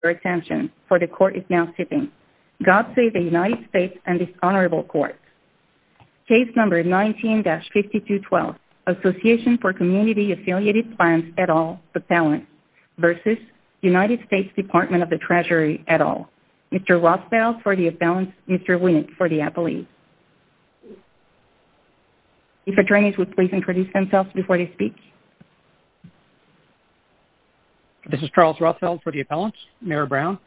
for the Court is now sitting. God save the United States and this Honorable Court. Case number 19-5212, Association for Community Affiliated Plans et al., Appellant, v. United States Department of the Treasury et al., Mr. Rothfeld for the Appellants, Mr. Winnick for the Appellees. If attorneys would please introduce themselves before they speak. This is Charles Rothfeld for the Appellants. Mayor Brown.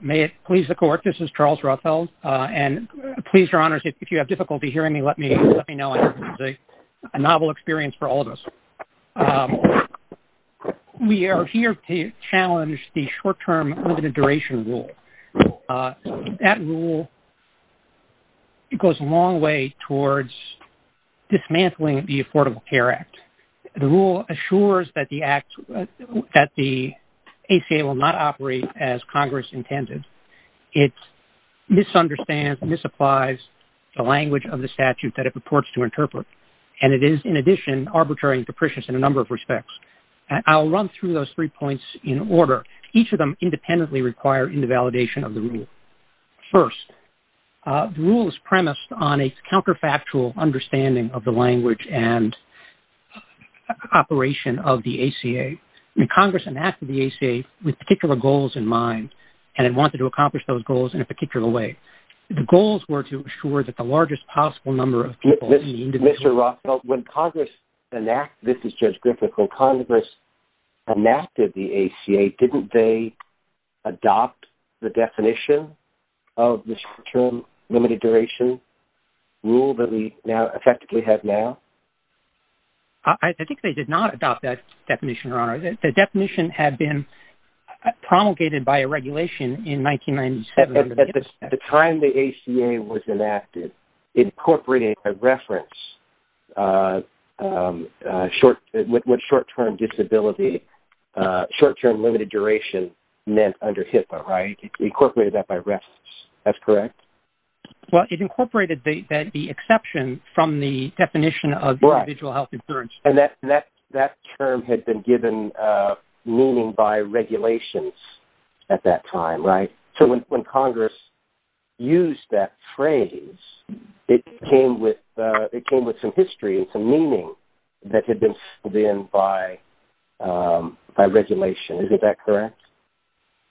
May it please the Court, this is Charles Rothfeld. And please, Your Honors, if you have difficulty hearing me, let me know. It's a novel experience for all of us. We are here to challenge the short-term implementation rule. That rule goes a long way towards dismantling the Affordable Care Act. The rule assures that the ACA will not operate as Congress intended. It misunderstands and misapplies the language of the statute that it purports to interpret. And it is, in addition, arbitrary and capricious in a number of respects. Each of them independently require invalidation of the rule. First, the rule is premised on a counterfactual understanding of the language and operation of the ACA. Congress enacted the ACA with particular goals in mind, and it wanted to accomplish those goals in a particular way. The goals were to assure that the largest possible number of people... Mr. Rothfeld, when Congress enacted, this is Judge Griffith, when Congress enacted the ACA, didn't they adopt the definition of this short-term limited duration rule that we effectively have now? I think they did not adopt that definition, Your Honor. The definition had been promulgated by a regulation in 1997. At the time the ACA was enacted, incorporating a reference with short-term disability, short-term limited duration meant under HIPAA, right? It incorporated that by reference. That's correct? Well, it incorporated the exception from the definition of individual health insurance. And that term had been given meaning by regulations at that time, right? So when Congress used that phrase, it came with some history and some meaning that had been given by regulation. Is that correct?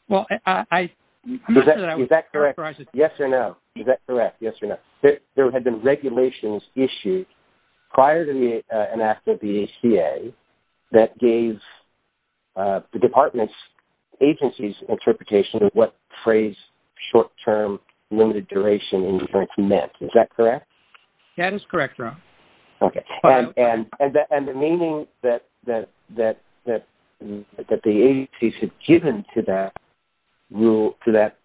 Well, I... Is that correct? Yes or no? Is that correct? Yes or no? There had been regulations issued prior to the enactment of the ACA that gave the department's agencies interpretation of what the phrase short-term limited duration meant. Is that correct? That is correct, Your Honor. Okay. And the meaning that the agencies had given to that rule, to that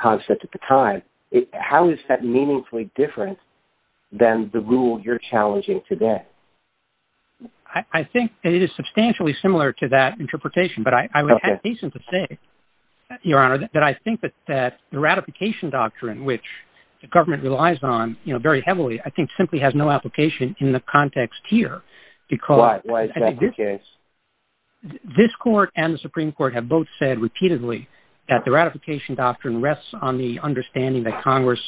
concept at the time, how is that meaningfully different than the rule you're challenging today? I think it is substantially similar to that interpretation. But I would have reason to say, Your Honor, that I think that the ratification doctrine, which the government relies on very heavily, I think simply has no application in the context here. Why is that the case? This court and the Supreme Court have both said repeatedly that the ratification doctrine rests on the understanding that Congress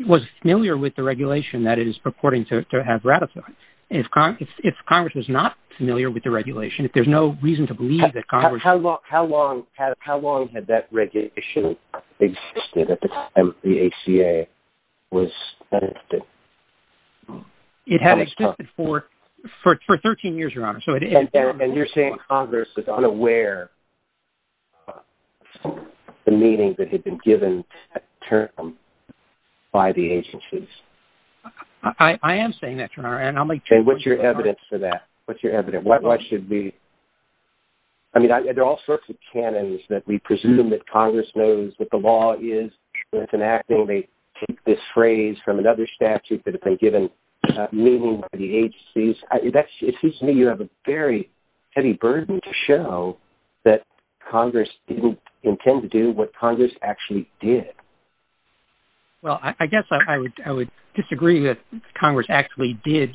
was familiar with the regulation that it is purporting to have ratified. And if Congress was not familiar with the regulation, if there's no reason to believe that Congress... How long had that regulation existed at the time the ACA was enacted? It had existed for 13 years, Your Honor. And you're saying Congress was unaware of the meaning that had been given to that term by the agencies? I am saying that, Your Honor. And what's your evidence for that? What's your evidence? Why should we... I mean, there are all sorts of canons that we presume that Congress knows what the law is. And it's enacting this phrase from another statute that had been given meaning by the agencies. It seems to me you have a very heavy burden to show that Congress didn't intend to do what Congress actually did. Well, I guess I would disagree that Congress actually did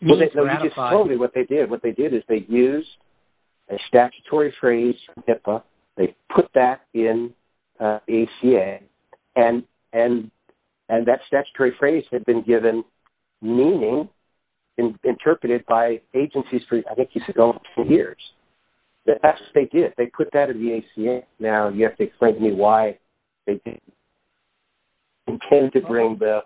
ratify... No, you just told me what they did. What they did is they used a statutory phrase from HIPAA. They put that in the ACA. And that statutory phrase had been given meaning and interpreted by agencies for, I think you said, over 10 years. That's what they did. They put that in the ACA. Now, you have to explain to me why they didn't intend to bring the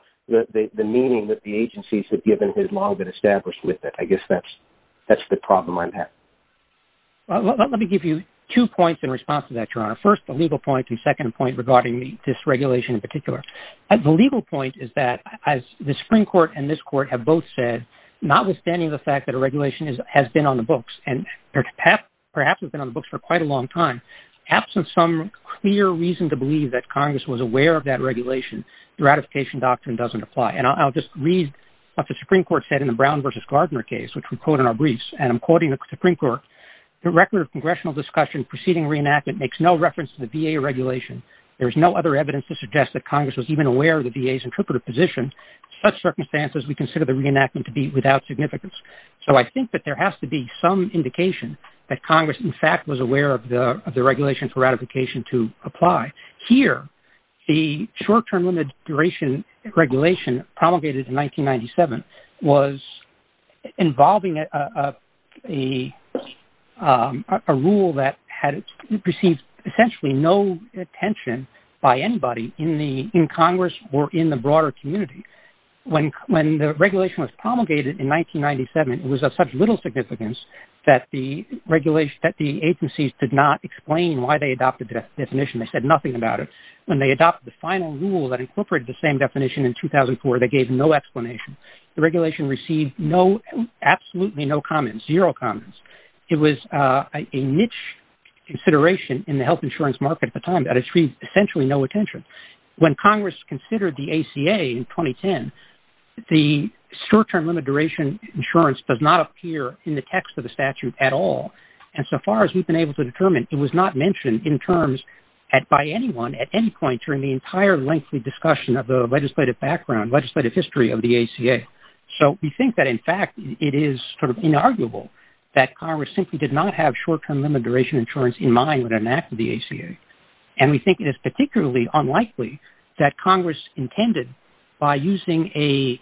meaning that the agencies had given had long been established with it. I guess that's the problem I'm having. Well, let me give you two points in response to that, Your Honor. First, the legal point. And second point regarding this regulation in particular. The legal point is that, as the Supreme Court and this court have both said, and perhaps have been on the books for quite a long time, absent some clear reason to believe that Congress was aware of that regulation, the ratification doctrine doesn't apply. And I'll just read what the Supreme Court said in the Brown v. Gardner case, which we quote in our briefs. And I'm quoting the Supreme Court. The record of congressional discussion preceding reenactment makes no reference to the VA regulation. There is no other evidence to suggest that Congress was even aware of the VA's interpretive position. In such circumstances, we consider the reenactment to be without significance. So I think that there has to be some indication that Congress, in fact, was aware of the regulation for ratification to apply. Here, the short-term limit duration regulation promulgated in 1997 was involving a rule that had received essentially no attention by anybody in Congress or in the broader community. When the regulation was promulgated in 1997, it was of such little significance that the agencies did not explain why they adopted that definition. They said nothing about it. When they adopted the final rule that incorporated the same definition in 2004, they gave no explanation. The regulation received absolutely no comments, zero comments. It was a niche consideration in the health insurance market at the time that it received essentially no attention. When Congress considered the ACA in 2010, the short-term limit duration insurance does not appear in the text of the statute at all. And so far as we've been able to determine, it was not mentioned in terms by anyone at any point during the entire lengthy discussion of the legislative background, legislative history of the ACA. So we think that, in fact, it is sort of inarguable that Congress simply did not have short-term limit duration insurance in mind when it enacted the ACA. And we think it is particularly unlikely that Congress intended by using a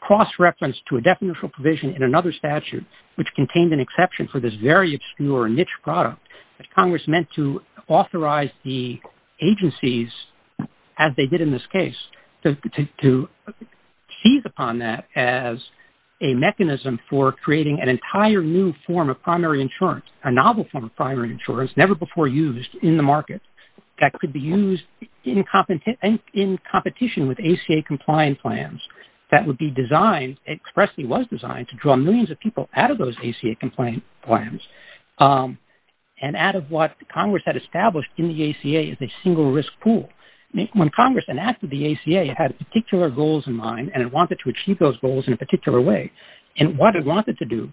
cross-reference to a definitional provision in another statute, which contained an exception for this very obscure niche product, that Congress meant to authorize the agencies, as they did in this case, to tease upon that as a mechanism for creating an entire new form of primary insurance, a novel form of primary insurance never before used in the market, that could be used in competition with ACA-compliant plans that would be designed, expressly was designed to draw millions of people out of those ACA-compliant plans. And out of what Congress had established in the ACA as a single risk pool. When Congress enacted the ACA, it had particular goals in mind, and it wanted to achieve those goals in a particular way. And what it wanted to do-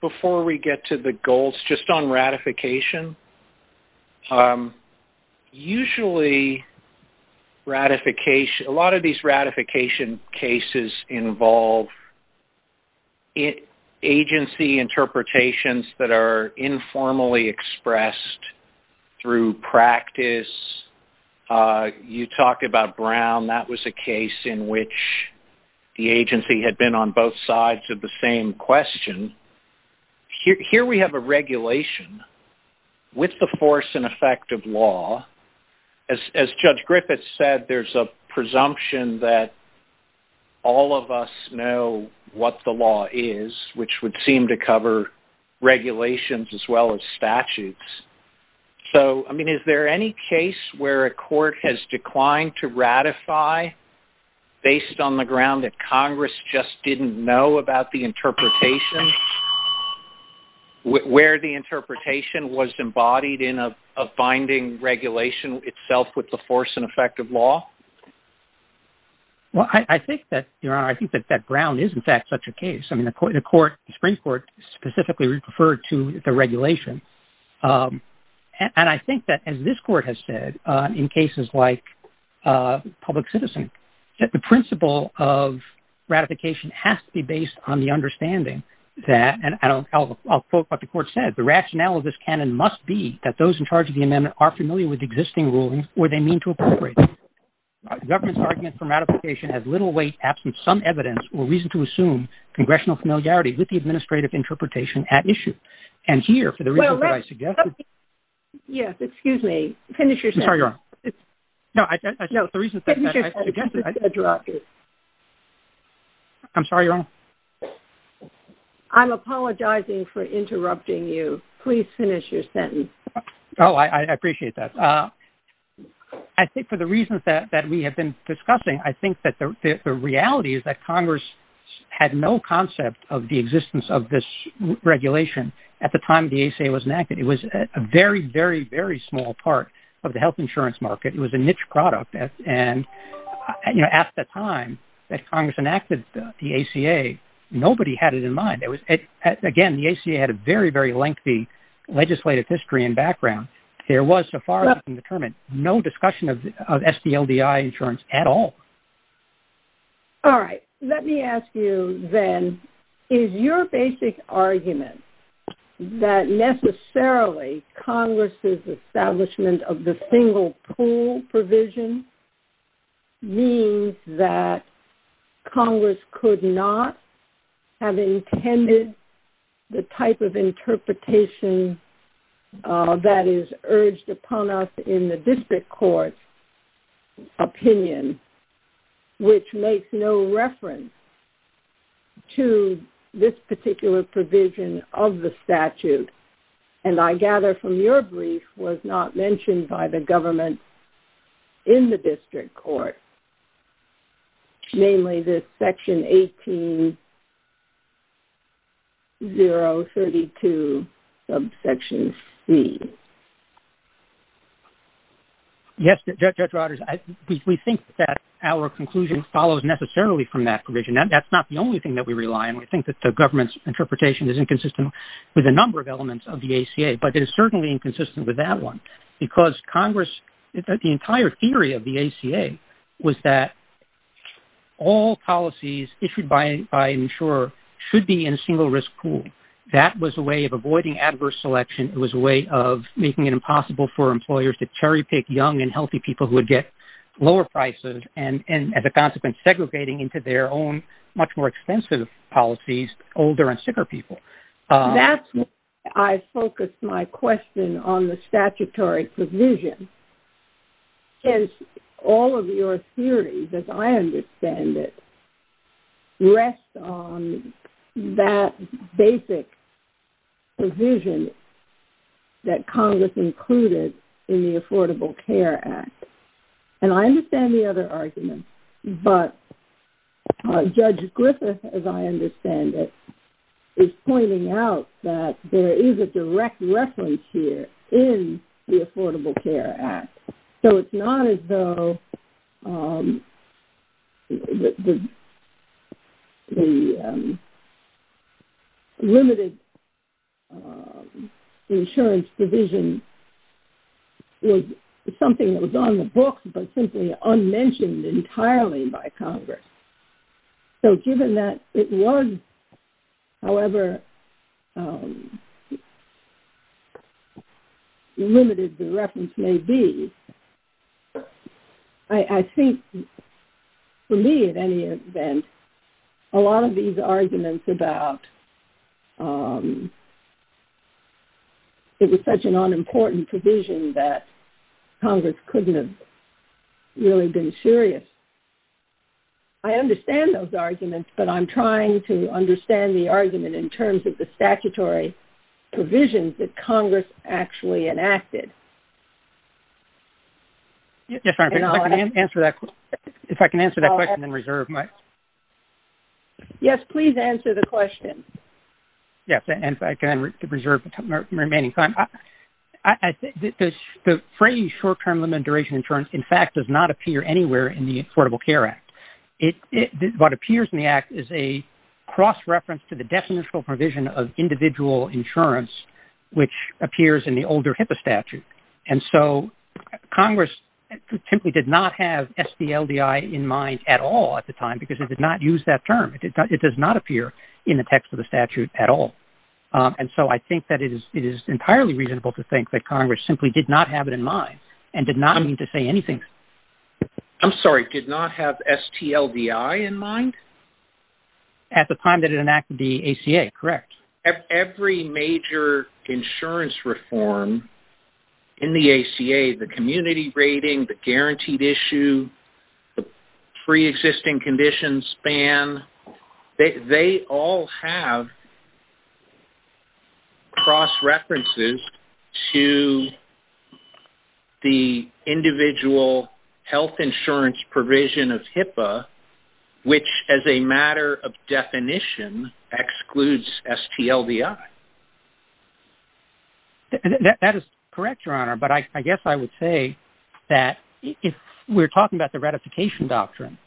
Before we get to the goals, just on ratification, usually a lot of these ratification cases involve agency interpretations that are informally expressed through practice. You talk about Brown, that was a case in which the agency had been on both sides of the same question. Here we have a regulation with the force and effect of law. As Judge Griffith said, there's a presumption that all of us know what the law is, which would seem to cover regulations as well as statutes. So, I mean, is there any case where a court has declined to ratify based on the ground that Congress just didn't know about the interpretation? Where the interpretation was embodied in a binding regulation itself with the force and effect of law? Well, I think that Brown is, in fact, such a case. I mean, the Supreme Court specifically referred to the regulation. And I think that, as this court has said in cases like Public Citizen, that the principle of ratification has to be based on the understanding that- The government's argument for ratification has little weight absent some evidence or reason to assume congressional familiarity with the administrative interpretation at issue. And here, for the reason that I suggested- Yes, excuse me. Finish your sentence. I'm sorry, Your Honor. No, the reason that I suggested- I'm sorry, Your Honor. I'm apologizing for interrupting you. Please finish your sentence. Oh, I appreciate that. I think for the reasons that we have been discussing, I think that the reality is that Congress had no concept of the existence of this regulation at the time the ACA was enacted. It was a very, very, very small part of the health insurance market. It was a niche product. And, you know, at the time that Congress enacted the ACA, nobody had it in mind. Again, the ACA had a very, very lengthy legislative history and background. There was, so far as I can determine, no discussion of SDLDI insurance at all. All right. Let me ask you then, is your basic argument that necessarily Congress' establishment of the single pool provision means that Congress could not have intended the type of interpretation that is urged upon us in the district court's opinion, which makes no reference to this particular provision of the statute? And I gather from your brief, was not mentioned by the government in the district court. Namely, this section 18-032, subsection C. Yes, Judge Rogers, we think that our conclusion follows necessarily from that provision. That's not the only thing that we rely on. We think that the government's interpretation is inconsistent with a number of elements of the ACA. But it is certainly inconsistent with that one. Because Congress, the entire theory of the ACA was that all policies issued by an insurer should be in a single risk pool. That was a way of avoiding adverse selection. It was a way of making it impossible for employers to cherry pick young and healthy people who would get lower prices. And as a consequence, segregating into their own much more expensive policies, older and sicker people. That's why I focused my question on the statutory provision. Since all of your theories, as I understand it, rest on that basic provision that Congress included in the Affordable Care Act. And I understand the other argument. But Judge Griffith, as I understand it, is pointing out that there is a direct reference here in the Affordable Care Act. So it's not as though the limited insurance provision is something that was on the books but simply unmentioned entirely by Congress. So given that it was, however limited the reference may be, I think for me at any event, a lot of these arguments about it was such an unimportant provision that Congress couldn't have really been serious. I understand those arguments, but I'm trying to understand the argument in terms of the statutory provisions that Congress actually enacted. If I can answer that question in reserve, Mike. Yes, please answer the question. Yes, and if I can reserve the remaining time. The phrase short-term limited duration insurance, in fact, does not appear anywhere in the Affordable Care Act. What appears in the Act is a cross-reference to the definitional provision of individual insurance, which appears in the older HIPAA statute. And so Congress simply did not have STLDI in mind at all at the time because it did not use that term. It does not appear in the text of the statute at all. And so I think that it is entirely reasonable to think that Congress simply did not have it in mind and did not need to say anything. I'm sorry, did not have STLDI in mind? At the time that it enacted the ACA, correct. Every major insurance reform in the ACA, the community rating, the guaranteed issue, free existing condition span, they all have cross-references to the individual health insurance provision of HIPAA, which as a matter of definition excludes STLDI. That is correct, Your Honor, but I guess I would say that if we're talking about the ratification doctrine,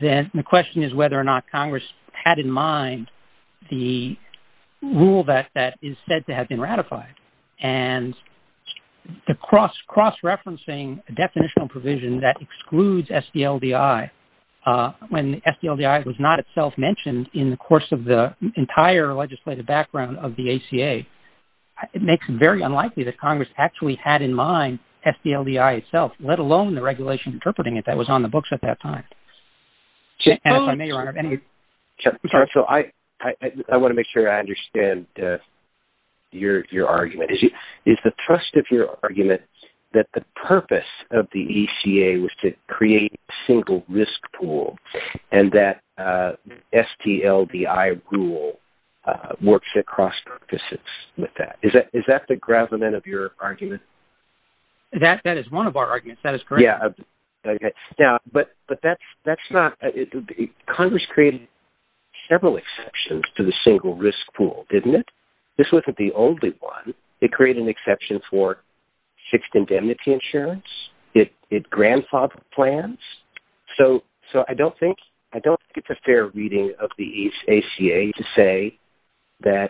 then the question is whether or not Congress had in mind the rule that is said to have been ratified. And the cross-referencing definitional provision that excludes STLDI, when STLDI was not itself mentioned in the course of the entire legislative background of the ACA, it makes it very unlikely that Congress actually had in mind STLDI itself, let alone the regulation interpreting it that was on the books at that time. I want to make sure I understand your argument. Is the trust of your argument that the purpose of the ACA was to create a single risk pool and that the STLDI rule works across purposes with that? Is that the gravamen of your argument? That is one of our arguments. That is correct. Congress created several exceptions to the single risk pool, didn't it? This wasn't the only one. It created an exception for fixed indemnity insurance. It grandfathered plans. So I don't think it's a fair reading of the ACA to say that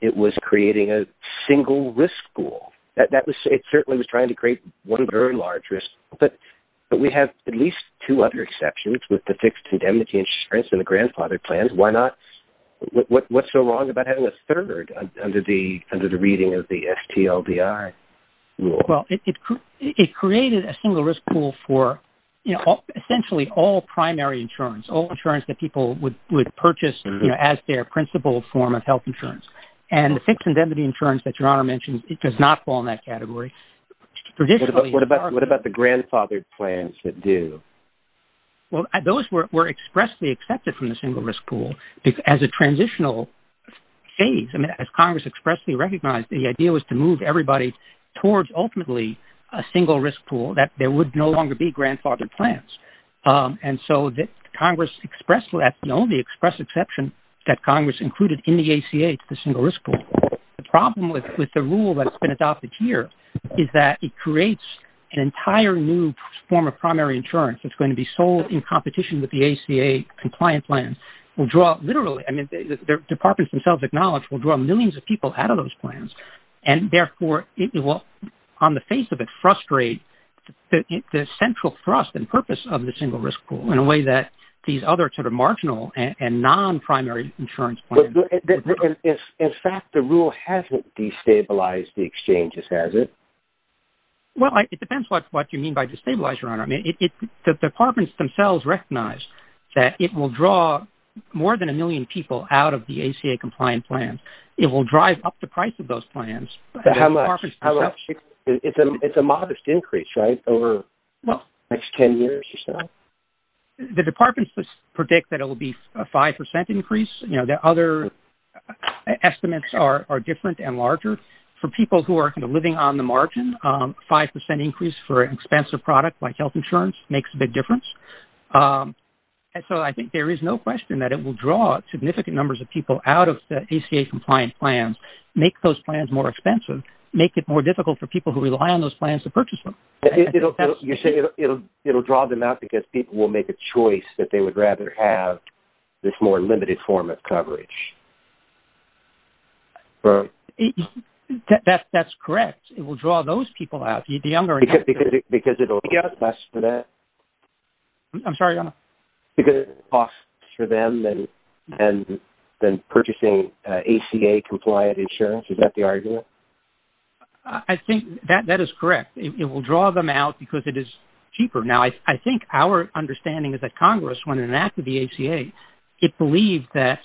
it was creating a single risk pool. It certainly was trying to create one very large risk pool, but we have at least two other exceptions with the fixed indemnity insurance and the grandfathered plans. What's so wrong about having a third under the reading of the STLDI rule? It created a single risk pool for essentially all primary insurance, all insurance that people would purchase as their principal form of health insurance. And the fixed indemnity insurance that Your Honor mentioned does not fall in that category. What about the grandfathered plans that do? Well, those were expressly accepted from the single risk pool as a transitional phase. And as Congress expressly recognized, the idea was to move everybody towards ultimately a single risk pool that there would no longer be grandfathered plans. And so Congress expressed that, you know, the express exception that Congress included in the ACA to the single risk pool. The problem with the rule that's been adopted here is that it creates an entire new form of primary insurance that's going to be sold in competition with the ACA compliant plan. We'll draw literally, I mean, the departments themselves acknowledge, we'll draw millions of people out of those plans. And therefore, on the face of it, frustrate the central thrust and purpose of the single risk pool in a way that these other sort of marginal and non-primary insurance plans do. In fact, the rule hasn't destabilized the exchanges, has it? Well, it depends what you mean by destabilized, Your Honor. I mean, the departments themselves recognize that it will draw more than a million people out of the ACA compliant plan. It will drive up the price of those plans. How much? It's a modest increase, right, over the next 10 years or so? The departments predict that it will be a 5% increase. You know, the other estimates are different and larger. For people who are living on the margin, 5% increase for an expensive product like health insurance makes a big difference. And so I think there is no question that it will draw significant numbers of people out of the ACA compliant plans, make those plans more expensive, make it more difficult for people who rely on those plans to purchase them. You say it will draw them out because people will make a choice that they would rather have this more limited form of coverage. That's correct. It will draw those people out. Because it will cost less for them than purchasing ACA compliant insurance. Is that the argument? I think that is correct. It will draw them out because it is cheaper. Now, I think our understanding is that Congress, when it enacted the ACA, it believed that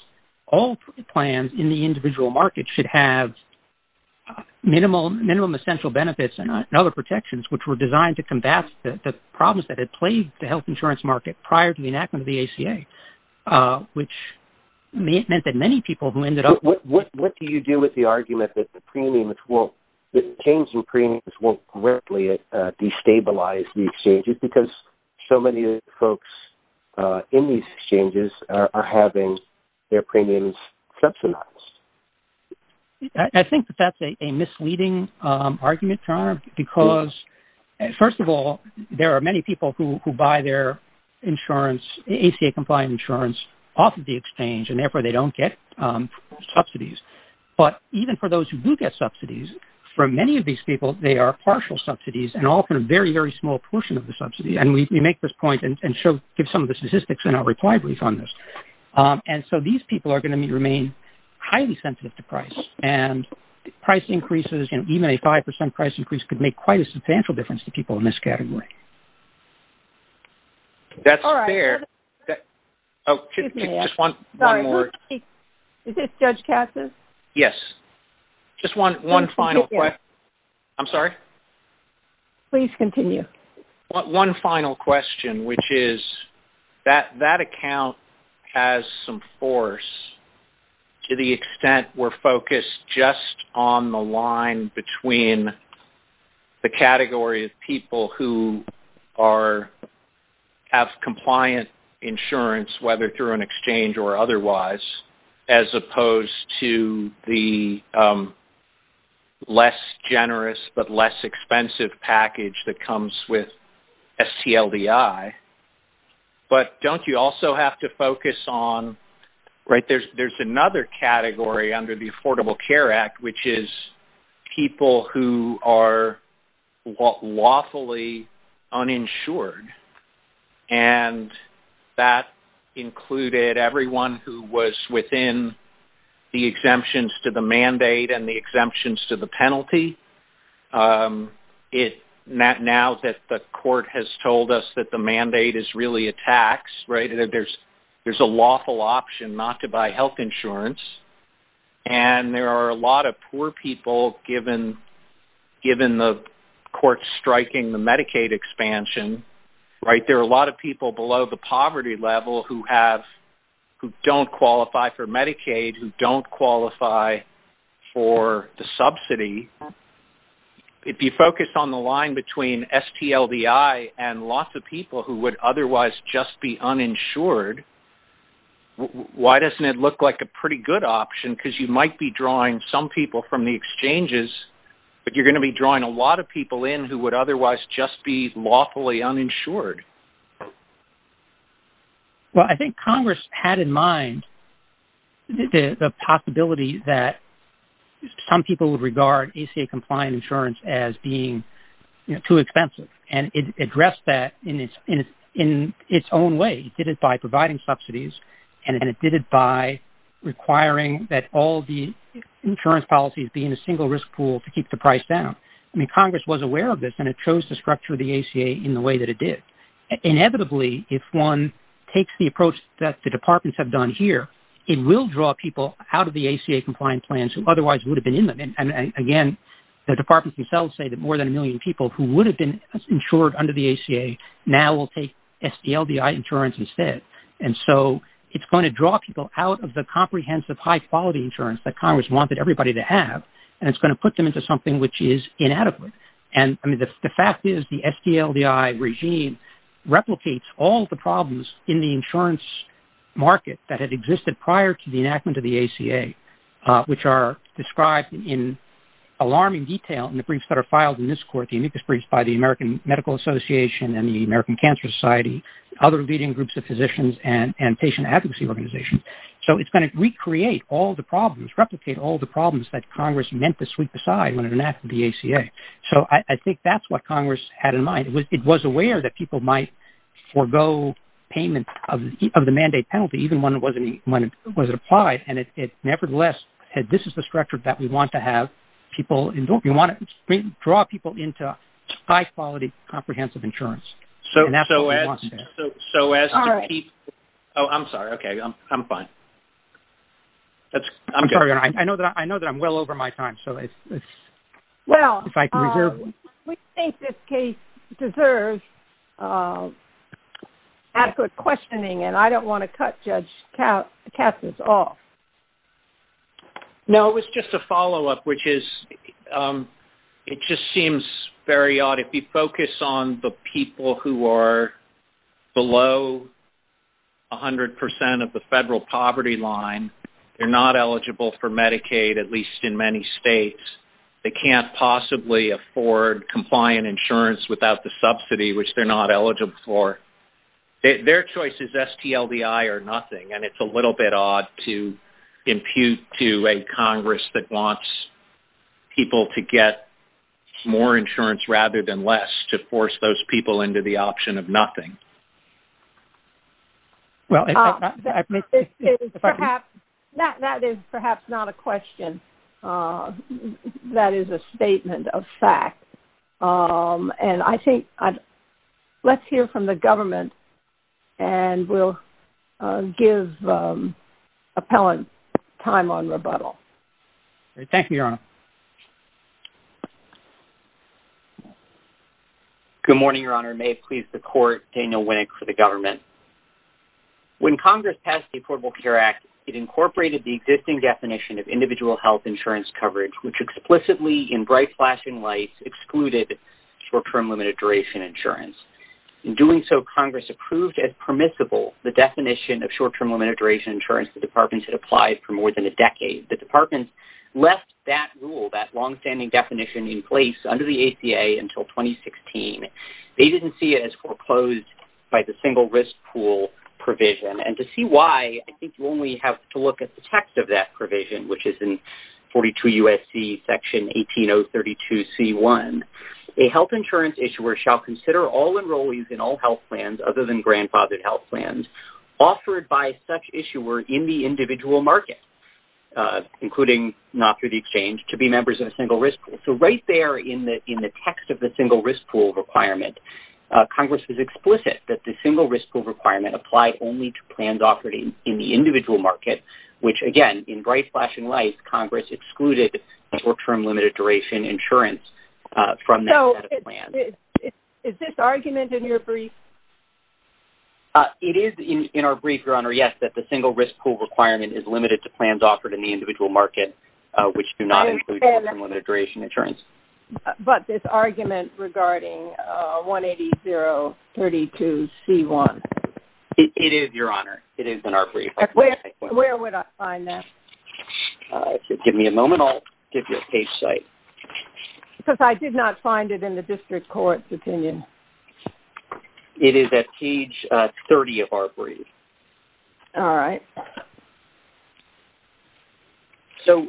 all plans in the individual market should have minimum essential benefits and other protections which were designed to combat the problems that had plagued the health insurance market prior to the enactment of the ACA, which meant that many people who ended up... destabilized the exchanges because so many folks in these exchanges are having their premiums subsidized. I think that is a misleading argument, Toronto, because first of all, there are many people who buy their insurance, ACA compliant insurance off of the exchange and therefore they don't get subsidies. But even for those who do get subsidies, for many of these people, they are partial subsidies and often a very, very small portion of the subsidy. And we make this point and give some of the statistics in our reply brief on this. And so these people are going to remain highly sensitive to price. And price increases, even a 5% price increase, could make quite a substantial difference to people in this category. That's fair. Oh, just one more. Is this Judge Cassis? Yes. Just one final question. I'm sorry? Please continue. One final question, which is, that account has some force to the extent we're focused just on the line between the category of people who have compliant insurance, whether through an exchange or otherwise, as opposed to the less generous but less expensive package that comes with STLDI. But don't you also have to focus on, right, there's another category under the Affordable Care Act, which is people who are lawfully uninsured. And that included everyone who was within the exemptions to the mandate and the exemptions to the penalty. Now that the court has told us that the mandate is really a tax, right, there's a lawful option not to buy health insurance. And there are a lot of poor people, given the court striking the Medicaid expansion, right, there are a lot of people below the poverty level who don't qualify for Medicaid, who don't qualify for the subsidy. If you focus on the line between STLDI and lots of people who would otherwise just be uninsured, why doesn't it look like a pretty good option? Because you might be drawing some people from the exchanges, but you're going to be drawing a lot of people in who would otherwise just be lawfully uninsured. Well, I think Congress had in mind the possibility that some people would regard ACA-compliant insurance as being too expensive. And it addressed that in its own way. It did it by providing subsidies, and it did it by requiring that all the insurance policies be in a single risk pool to keep the price down. I mean, Congress was aware of this, and it chose to structure the ACA in the way that it did. Inevitably, if one takes the approach that the departments have done here, it will draw people out of the ACA-compliant plans who otherwise would have been in them. And again, the departments themselves say that more than a million people who would have been insured under the ACA now will take STLDI insurance instead. And so it's going to draw people out of the comprehensive high-quality insurance that Congress wanted everybody to have, and it's going to put them into something which is inadequate. And the fact is the STLDI regime replicates all the problems in the insurance market that had existed prior to the enactment of the ACA, which are described in alarming detail in the briefs that are filed in this court, the amicus briefs by the American Medical Association and the American Cancer Society, other leading groups of physicians and patient advocacy organizations. So it's going to recreate all the problems, replicate all the problems that Congress meant to sweep aside when it enacted the ACA. So I think that's what Congress had in mind. It was aware that people might forego payment of the mandate penalty, even when it was applied. And nevertheless, this is the structure that we want to have. We want to draw people into high-quality comprehensive insurance. And that's what we want to do. Oh, I'm sorry. Okay. I'm fine. I'm sorry. I know that I'm well over my time. Well, we think this case deserves adequate questioning, and I don't want to cut Judge Katz's off. No, it was just a follow-up, which is it just seems very odd. If you focus on the people who are below 100% of the federal poverty line, they're not eligible for Medicaid, at least in many states. They can't possibly afford compliant insurance without the subsidy, which they're not eligible for. Their choice is STLDI or nothing, and it's a little bit odd to impute to a Congress that wants people to get more insurance rather than less to force those people into the option of nothing. That is perhaps not a question. That is a statement of fact. And I think let's hear from the government, and we'll give appellants time on rebuttal. Thank you, Your Honor. Good morning, Your Honor. May it please the Court, Daniel Wink for the government. When Congress passed the Affordable Care Act, it incorporated the existing definition of individual health insurance coverage, which explicitly, in bright flashing lights, excluded short-term limited-duration insurance. In doing so, Congress approved as permissible the definition of short-term limited-duration insurance to departments that applied for more than a decade. The departments left that rule, that long-standing definition in place, under the ACA until 2016. They didn't see it as foreclosed by the single-risk pool provision. And to see why, I think you only have to look at the text of that provision, which is in 42 U.S.C. Section 18032C1. A health insurance issuer shall consider all enrollees in all health plans, other than grandfathered health plans, offered by such issuer in the individual market, including not through the exchange, to be members of a single-risk pool. So right there in the text of the single-risk pool requirement, Congress is explicit that the single-risk pool requirement applies only to plans offered in the individual market, which, again, in bright flashing lights, Congress excluded short-term limited-duration insurance from that plan. So is this argument in your brief? It is in our brief, Your Honor, yes, that the single-risk pool requirement is limited to plans offered in the But this argument regarding 18032C1? It is, Your Honor. It is in our brief. Where would I find that? Give me a moment. I'll give you a page site. Because I did not find it in the district court's opinion. All right. So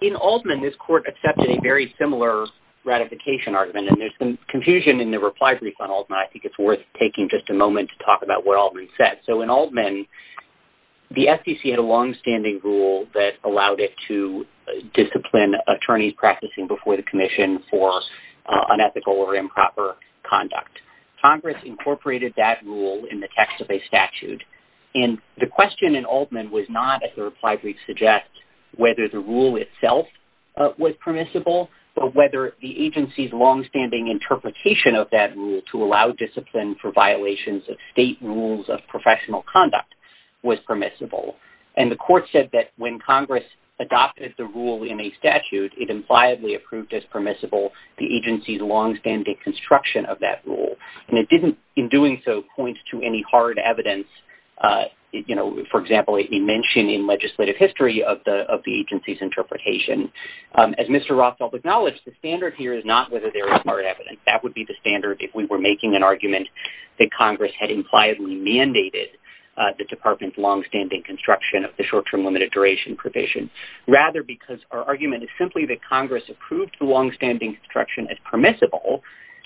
in Altman, this court accepted a very similar ratification argument, and there's some confusion in the reply brief on Altman. I think it's worth taking just a moment to talk about what Altman said. So in Altman, the SEC had a longstanding rule that allowed it to discipline attorneys practicing before the commission for unethical or improper conduct. Congress incorporated that rule in the text of a statute. And the question in Altman was not, as the reply brief suggests, whether the rule itself was permissible, but whether the agency's longstanding interpretation of that rule to allow discipline for violations of state rules of professional conduct was permissible. And the court said that when Congress adopted the rule in a statute, it impliably approved as permissible the agency's longstanding construction of that rule. And it didn't, in doing so, point to any hard evidence, you know, for example, a mention in legislative history of the agency's interpretation. As Mr. Rothfeld acknowledged, the standard here is not whether there is hard evidence. That would be the standard if we were making an argument that Congress had impliedly mandated the department's longstanding construction of the short-term limited duration provision. Rather, because our argument is simply that Congress approved the longstanding construction as permissible,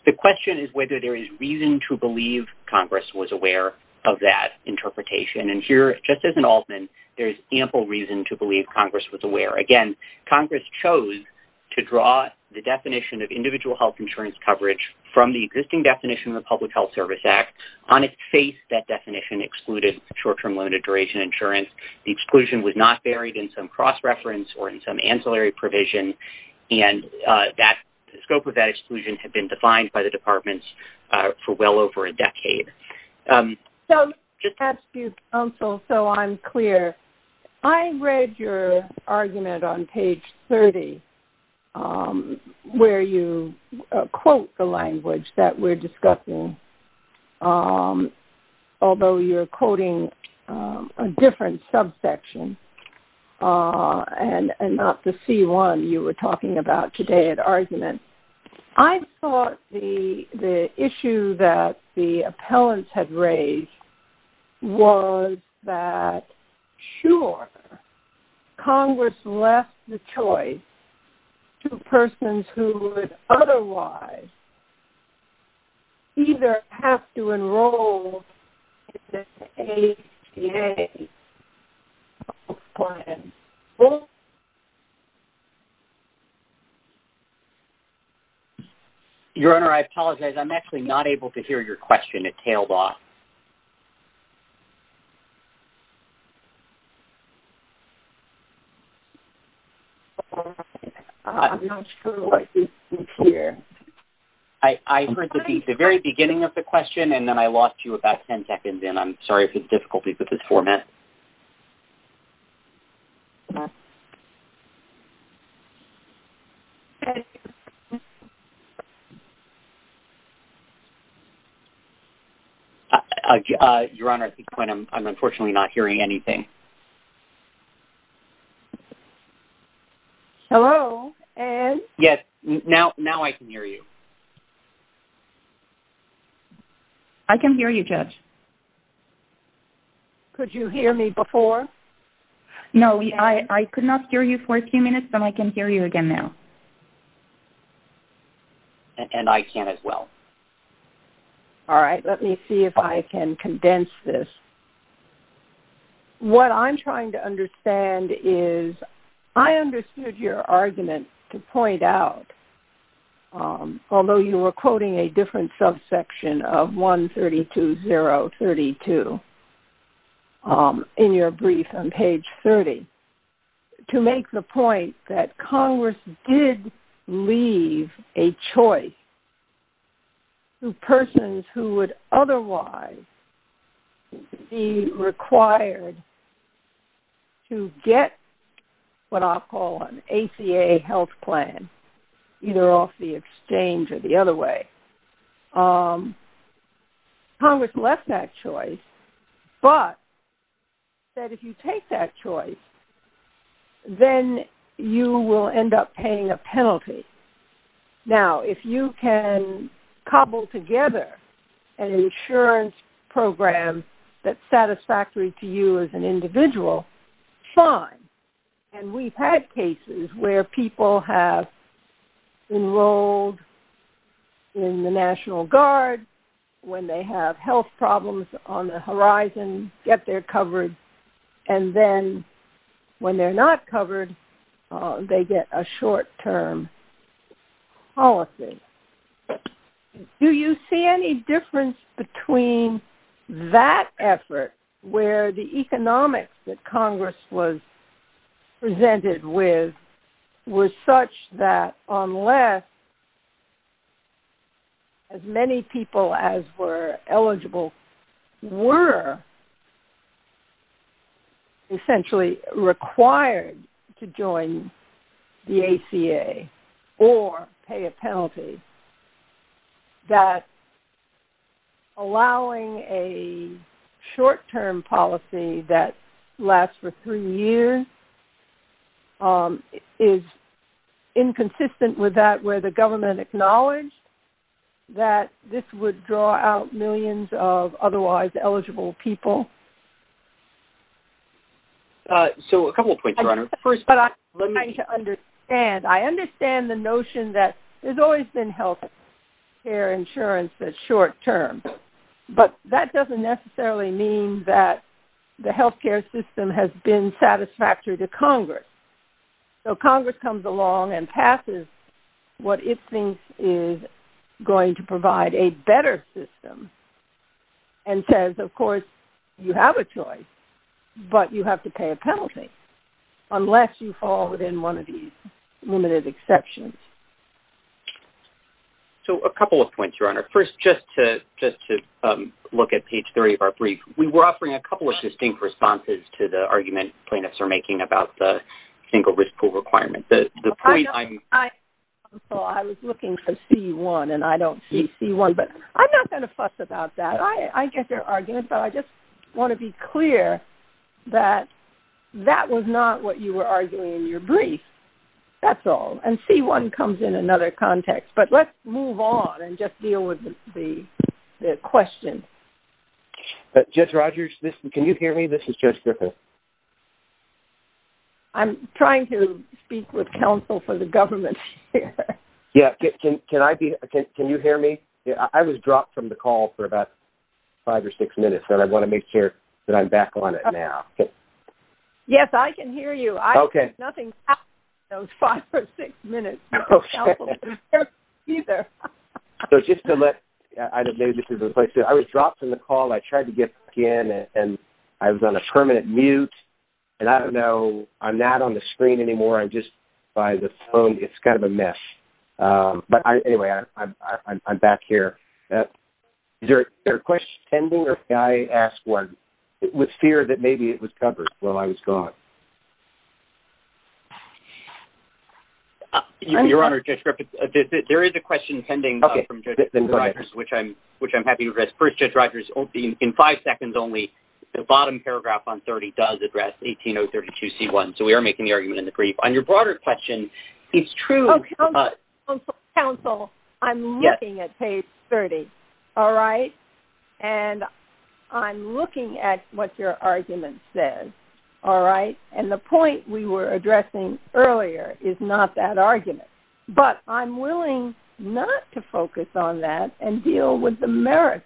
the question is whether there is reason to believe Congress was aware of that interpretation. And here, just as in Altman, there is ample reason to believe Congress was aware. Again, Congress chose to draw the definition of individual health insurance coverage from the existing definition of the Public Health Service Act. On its face, that definition excluded short-term limited duration insurance. The exclusion was not buried in some cross-reference or in some ancillary provision. And the scope of that exclusion had been defined by the department for well over a decade. So, just to add to your counsel so I'm clear, I read your argument on page 30 where you quote the language that we're discussing, although you're quoting a different subsection and not the C1 you were talking about today in argument. I thought the issue that the appellants had raised was that, sure, Congress left the choice to persons who would otherwise either have to enroll in the ACA or enroll. Your Honor, I apologize. I'm actually not able to hear your question. It tailed off. I'm not sure what you think here. I heard the very beginning of the question and then I lost you about ten seconds in. I'm sorry for the difficulty with this format. Your Honor, at this point, I'm unfortunately not hearing anything. Hello, Ed? Yes, now I can hear you. I can hear you, Judge. Could you hear me before? No, I could not hear you for a few minutes, but I can hear you again now. And I can as well. All right, let me see if I can condense this. What I'm trying to understand is I understood your argument to point out, although you were quoting a different subsection of 132032 in your brief on page 30, to make the point that Congress did leave a choice to persons who would otherwise be required to get what I'll call an ACA health plan, either off the exchange or the other way. Congress left that choice, but said if you take that choice, then you will end up paying a penalty. Now, if you can cobble together an insurance program that's satisfactory to you as an individual, fine. And we've had cases where people have enrolled in the National Guard when they have health problems on the horizon, get their coverage, and then when they're not covered, they get a short-term policy. Do you see any difference between that effort where the economics that Congress was presented with was such that unless as many people as were eligible were essentially required to join the ACA or pay a penalty, that allowing a short-term policy that lasts for three years is inconsistent with that where the government acknowledged that this would draw out millions of otherwise eligible people? I understand the notion that there's always been health care insurance that's short-term, but that doesn't necessarily mean that the health care system has been satisfactory to Congress. So Congress comes along and passes what it thinks is going to provide a better system and says, of course, you have a choice, but you have to pay a penalty. Unless you fall within one of these limited exceptions. So a couple of points, Your Honor. First, just to look at page 30 of our brief, we were offering a couple of distinct responses to the argument plaintiffs are making about the single risk pool requirement. So I was looking for C1 and I don't see C1, but I'm not going to fuss about that. I get their argument, but I just want to be clear that that was not what you were arguing in your brief. That's all. And C1 comes in another context. But let's move on and just deal with the question. Judge Rogers, can you hear me? This is Judge Griffin. I'm trying to speak with counsel for the government here. Yeah. Can you hear me? I was dropped from the call for about five or six minutes, and I want to make sure that I'm back on it now. Yes, I can hear you. Okay. Nothing happened in those five or six minutes. Okay. Neither. So just to look, I was dropped from the call. I tried to get back in, and I was on a permanent mute, and I don't know. I'm not on the screen anymore. I'm just by the phone. It's kind of a mess. But anyway, I'm back here. Is there a question pending, or can I ask one with fear that maybe it was covered while I was gone? Your Honor, Judge Griffin, there is a question pending from Judge Rogers, which I'm happy to address. First, Judge Rogers, in five seconds only, the bottom paragraph on 30 does address 18032C1. So we are making the argument in the brief. On your broader question, it's true. Counsel, I'm looking at page 30, all right? And I'm looking at what your argument says, all right? And the point we were addressing earlier is not that argument. But I'm willing not to focus on that and deal with the merits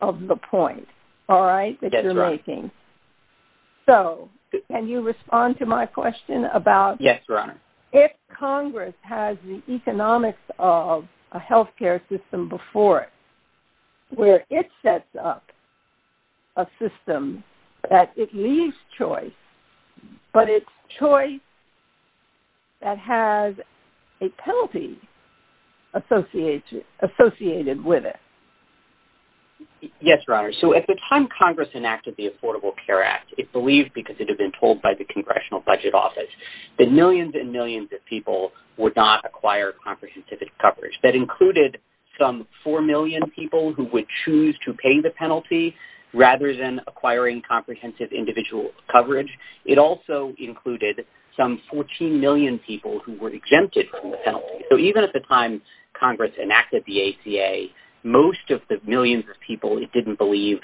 of the point, all right, that you're making. That's right. So can you respond to my question about if Congress has the economics of a healthcare system before it, where it sets up a system that it leaves choice, but it's choice that has a penalty associated with it? Yes, Your Honor. So at the time Congress enacted the Affordable Care Act, it believed, because it had been told by the Congressional Budget Office, that millions and millions of people would not acquire comprehensive coverage. That included some 4 million people who would choose to pay the penalty rather than acquiring comprehensive individual coverage. It also included some 14 million people who were exempted from the penalty. So even at the time Congress enacted the ACA, most of the millions of people it didn't believe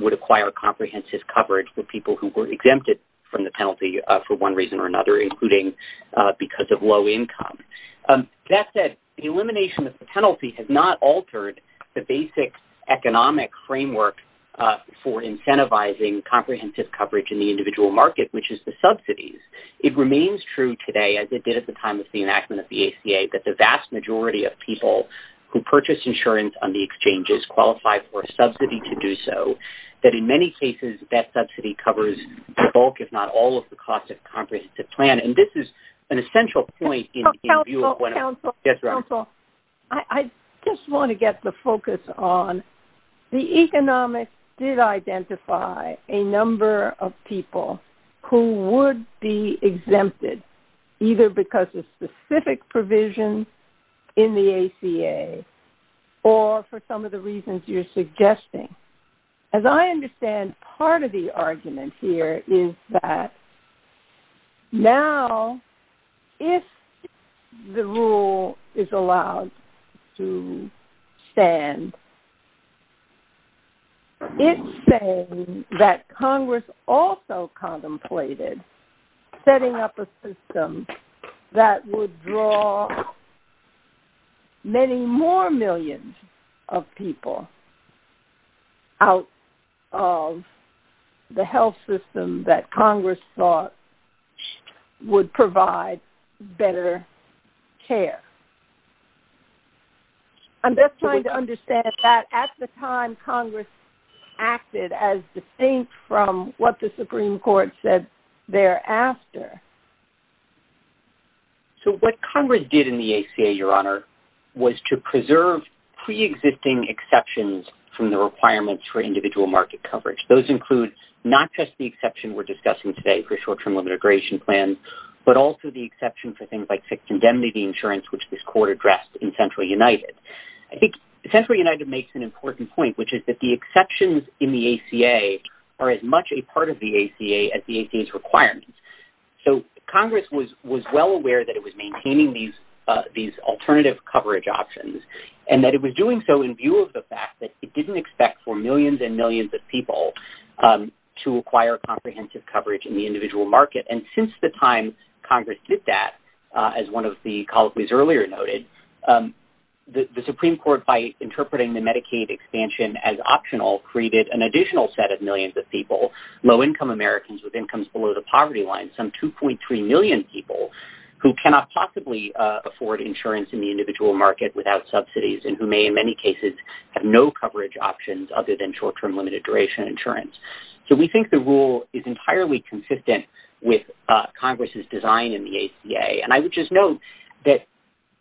would acquire comprehensive coverage were people who were exempted from the penalty for one reason or another, including because of low income. That said, the elimination of the penalty has not altered the basic economic framework for incentivizing comprehensive coverage in the individual market, which is the subsidies. It remains true today, as it did at the time of the enactment of the ACA, that the vast majority of people who purchase insurance on the exchanges qualify for a subsidy to do so. That in many cases, that subsidy covers the bulk, if not all, of the cost of comprehensive plan. And this is an essential point in view of what... Counsel, counsel, counsel. Yes, Your Honor. I just want to get the focus on the economics did identify a number of people who would be exempted, either because of specific provisions in the ACA, or for some of the reasons you're suggesting. As I understand, part of the argument here is that now, if the rule is allowed to stand, it's saying that Congress also contemplated setting up a system that would draw many more millions of people out of the health system that Congress thought would provide better care. I'm just trying to understand that at the time, Congress acted as distinct from what the Supreme Court said thereafter. So what Congress did in the ACA, Your Honor, was to preserve pre-existing exceptions from the requirements for individual market coverage. Those include not just the exception we're discussing today for short-term immigration plans, but also the exception for things like fixed indemnity insurance, which this court addressed in Central United. I think Central United makes an important point, which is that the exceptions in the ACA are as much a part of the ACA as the ACA's requirements. So Congress was well aware that it was maintaining these alternative coverage options, and that it was doing so in view of the fact that it didn't expect for millions and millions of people to acquire comprehensive coverage in the individual market. And since the time Congress did that, as one of the colleagues earlier noted, the Supreme Court, by interpreting the Medicaid expansion as optional, created an additional set of millions of people, low-income Americans with incomes below the poverty line, some 2.3 million people who cannot possibly afford insurance in the individual market without subsidies and who may, in many cases, have no coverage options other than short-term limited duration insurance. So we think the rule is entirely consistent with Congress's design in the ACA. And I would just note that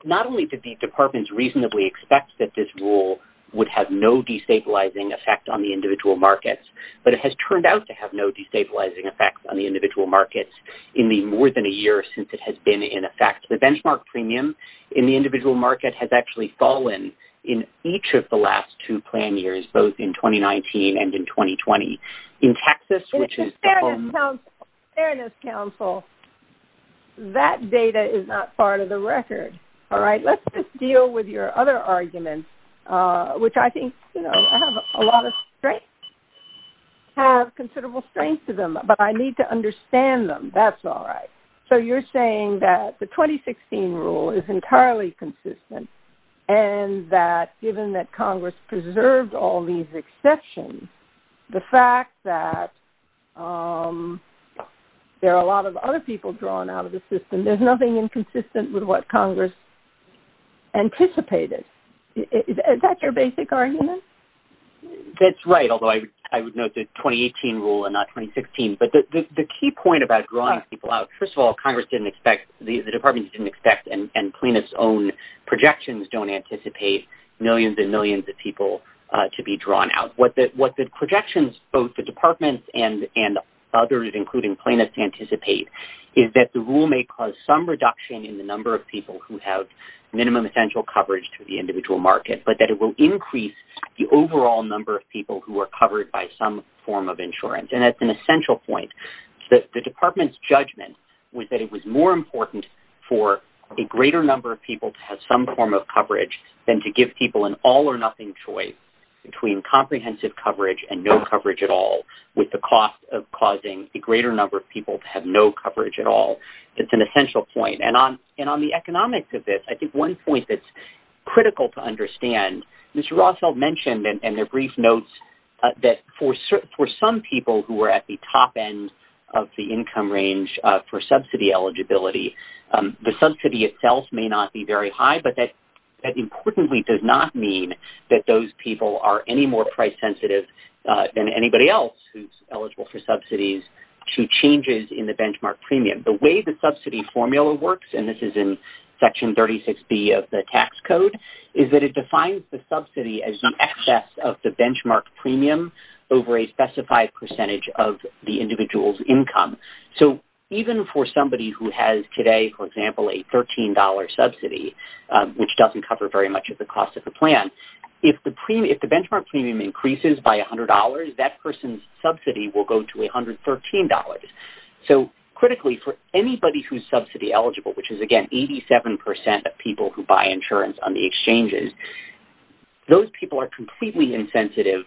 not only did the departments reasonably expect that this rule would have no destabilizing effect on the individual markets, but it has turned out to have no destabilizing effect on the individual markets in the more than a year since it has been in effect. The benchmark premium in the individual market has actually fallen in each of the last two plan years, both in 2019 and in 2020. In Texas, which is... In the Fairness Council, that data is not part of the record. All right? Let's just deal with your other arguments, which I think, you know, have a lot of strength, have considerable strength to them. But I need to understand them. That's all right. So you're saying that the 2016 rule is entirely consistent and that given that Congress preserved all these exceptions, the fact that there are a lot of other people drawn out of the system, there's nothing inconsistent with what Congress anticipated. Is that your basic argument? That's right, although I would note the 2018 rule and not 2016. But the key point about drawing people out... First of all, Congress didn't expect... The departments didn't expect and plaintiffs' own projections don't anticipate millions and millions of people to be drawn out. What the projections, both the departments and others, including plaintiffs, anticipate is that the rule may cause some reduction in the number of people who have minimum essential coverage to the individual market, but that it will increase the overall number of people who are covered by some form of insurance. And that's an essential point. The department's judgment was that it was more important for a greater number of people to have some form of coverage than to give people an all-or-nothing choice between comprehensive coverage and no coverage at all, with the cost of causing a greater number of people to have no coverage at all. It's an essential point. And on the economics of this, I think one point that's critical to understand, Mr. who are at the top end of the income range for subsidy eligibility, the subsidy itself may not be very high, but that importantly does not mean that those people are any more price sensitive than anybody else who's eligible for subsidies to changes in the benchmark premium. The way the subsidy formula works, and this is in Section 36B of the tax code, is that it defines the subsidy as the excess of the benchmark premium over a specified percentage of the individual's income. So even for somebody who has today, for example, a $13 subsidy, which doesn't cover very much of the cost of the plan, if the benchmark premium increases by $100, that person's subsidy will go to $113. So critically, for anybody who's subsidy eligible, which is, again, 87% of people who buy insurance on the exchanges, those people are completely insensitive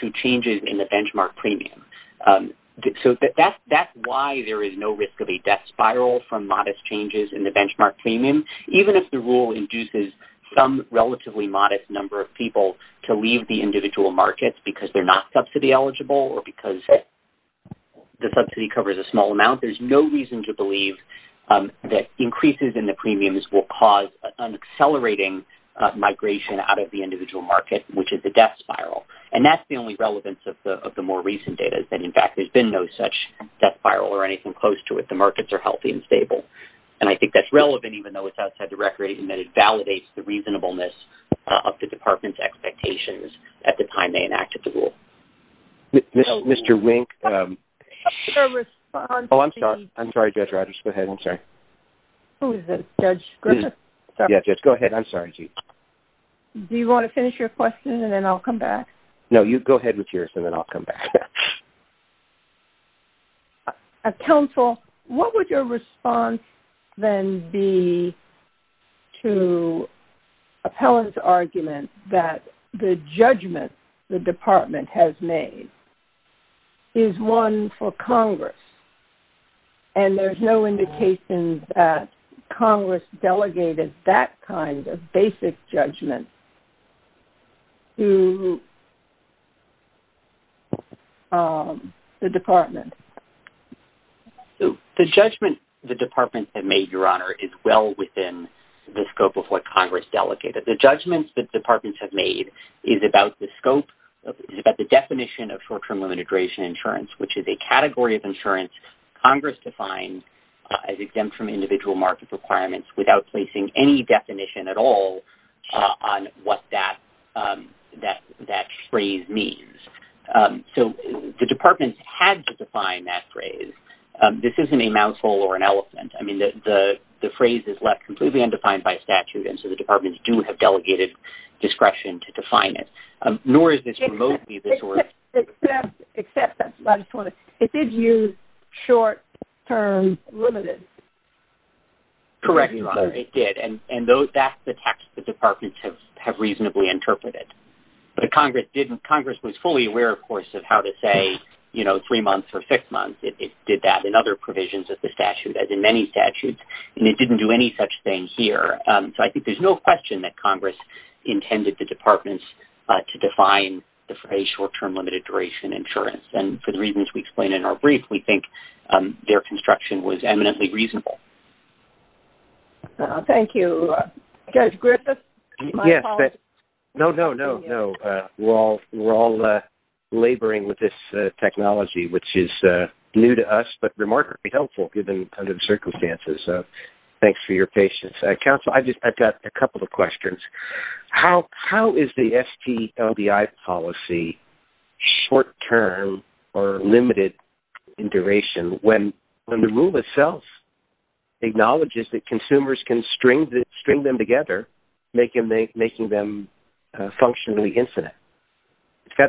to changes in the benchmark premium. So that's why there is no risk of a death spiral from modest changes in the benchmark premium, even if the rule induces some relatively modest number of people to leave the individual markets because they're not subsidy eligible or because the subsidy covers a small amount. There's no reason to believe that increases in the premiums will cause an accelerating migration out of the individual market, which is a death spiral. And that's the only relevance of the more recent data, is that, in fact, there's been no such death spiral or anything close to it. The markets are healthy and stable. And I think that's relevant, even though it's outside the record, in that it validates the reasonableness of the department's expectations at the time they enacted the rule. Mr. Wink, I'm sorry. I'm sorry, Judge Rogers. Go ahead. I'm sorry. Who is this? Judge Griffith? Yeah, Judge, go ahead. I'm sorry. Do you want to finish your question, and then I'll come back? No, you go ahead with yours, and then I'll come back. Counsel, what would your response then be to Appellant's argument that the judgment the department has made is one for Congress, and there's no indication that Congress delegated that kind of basic judgment to the department? The judgment the departments have made, Your Honor, is well within the scope of what Congress delegated. The judgments that departments have made is about the scope, is about the definition of short-term immigration insurance, which is a category of insurance Congress defines as without placing any definition at all on what that phrase means. So the departments had to define that phrase. This isn't a mousehole or an elephant. I mean, the phrase is left completely undefined by statute, and so the departments do have delegated discretion to define it, nor is this remotely the source. Except, I just want to, it did use short-term limited. Correct, Your Honor, it did, and that's the text the departments have reasonably interpreted. But Congress was fully aware, of course, of how to say, you know, three months or six months. It did that in other provisions of the statute, as in many statutes, and it didn't do any such thing here. So I think there's no question that Congress intended the departments to define the phrase short-term limited duration insurance. And for the reasons we explained in our brief, we think their construction was eminently reasonable. Thank you. Judge Griffith? Yes. No, no, no, no. We're all laboring with this technology, which is new to us, but remarkably helpful given the circumstances. Thanks for your patience. Counsel, I've got a couple of questions. How is the STLBI policy short-term or limited in duration when the rule itself acknowledges that consumers can string them together, making them functionally infinite?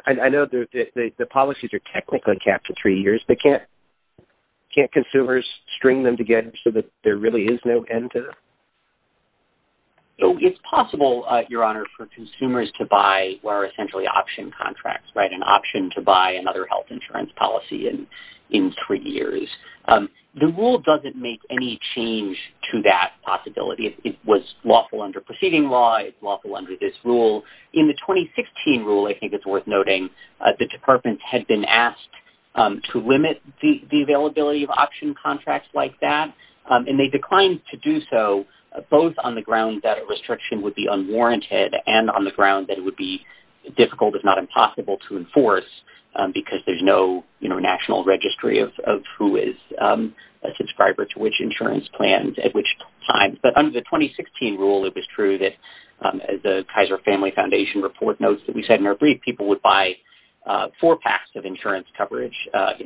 I know the policies are technically capped to three years, but can't consumers string them together so that there really is no end to them? It's possible, Your Honor, for consumers to buy what are essentially option contracts, right, an option to buy another health insurance policy in three years. The rule doesn't make any change to that possibility. It was lawful under preceding law. It's lawful under this rule. In the 2016 rule, I think it's worth noting, the departments had been asked to limit the both on the ground that a restriction would be unwarranted and on the ground that it would be difficult, if not impossible, to enforce because there's no national registry of who is a subscriber to which insurance plans at which time. But under the 2016 rule, it was true that the Kaiser Family Foundation report notes that we said in our brief people would buy four packs of insurance coverage, a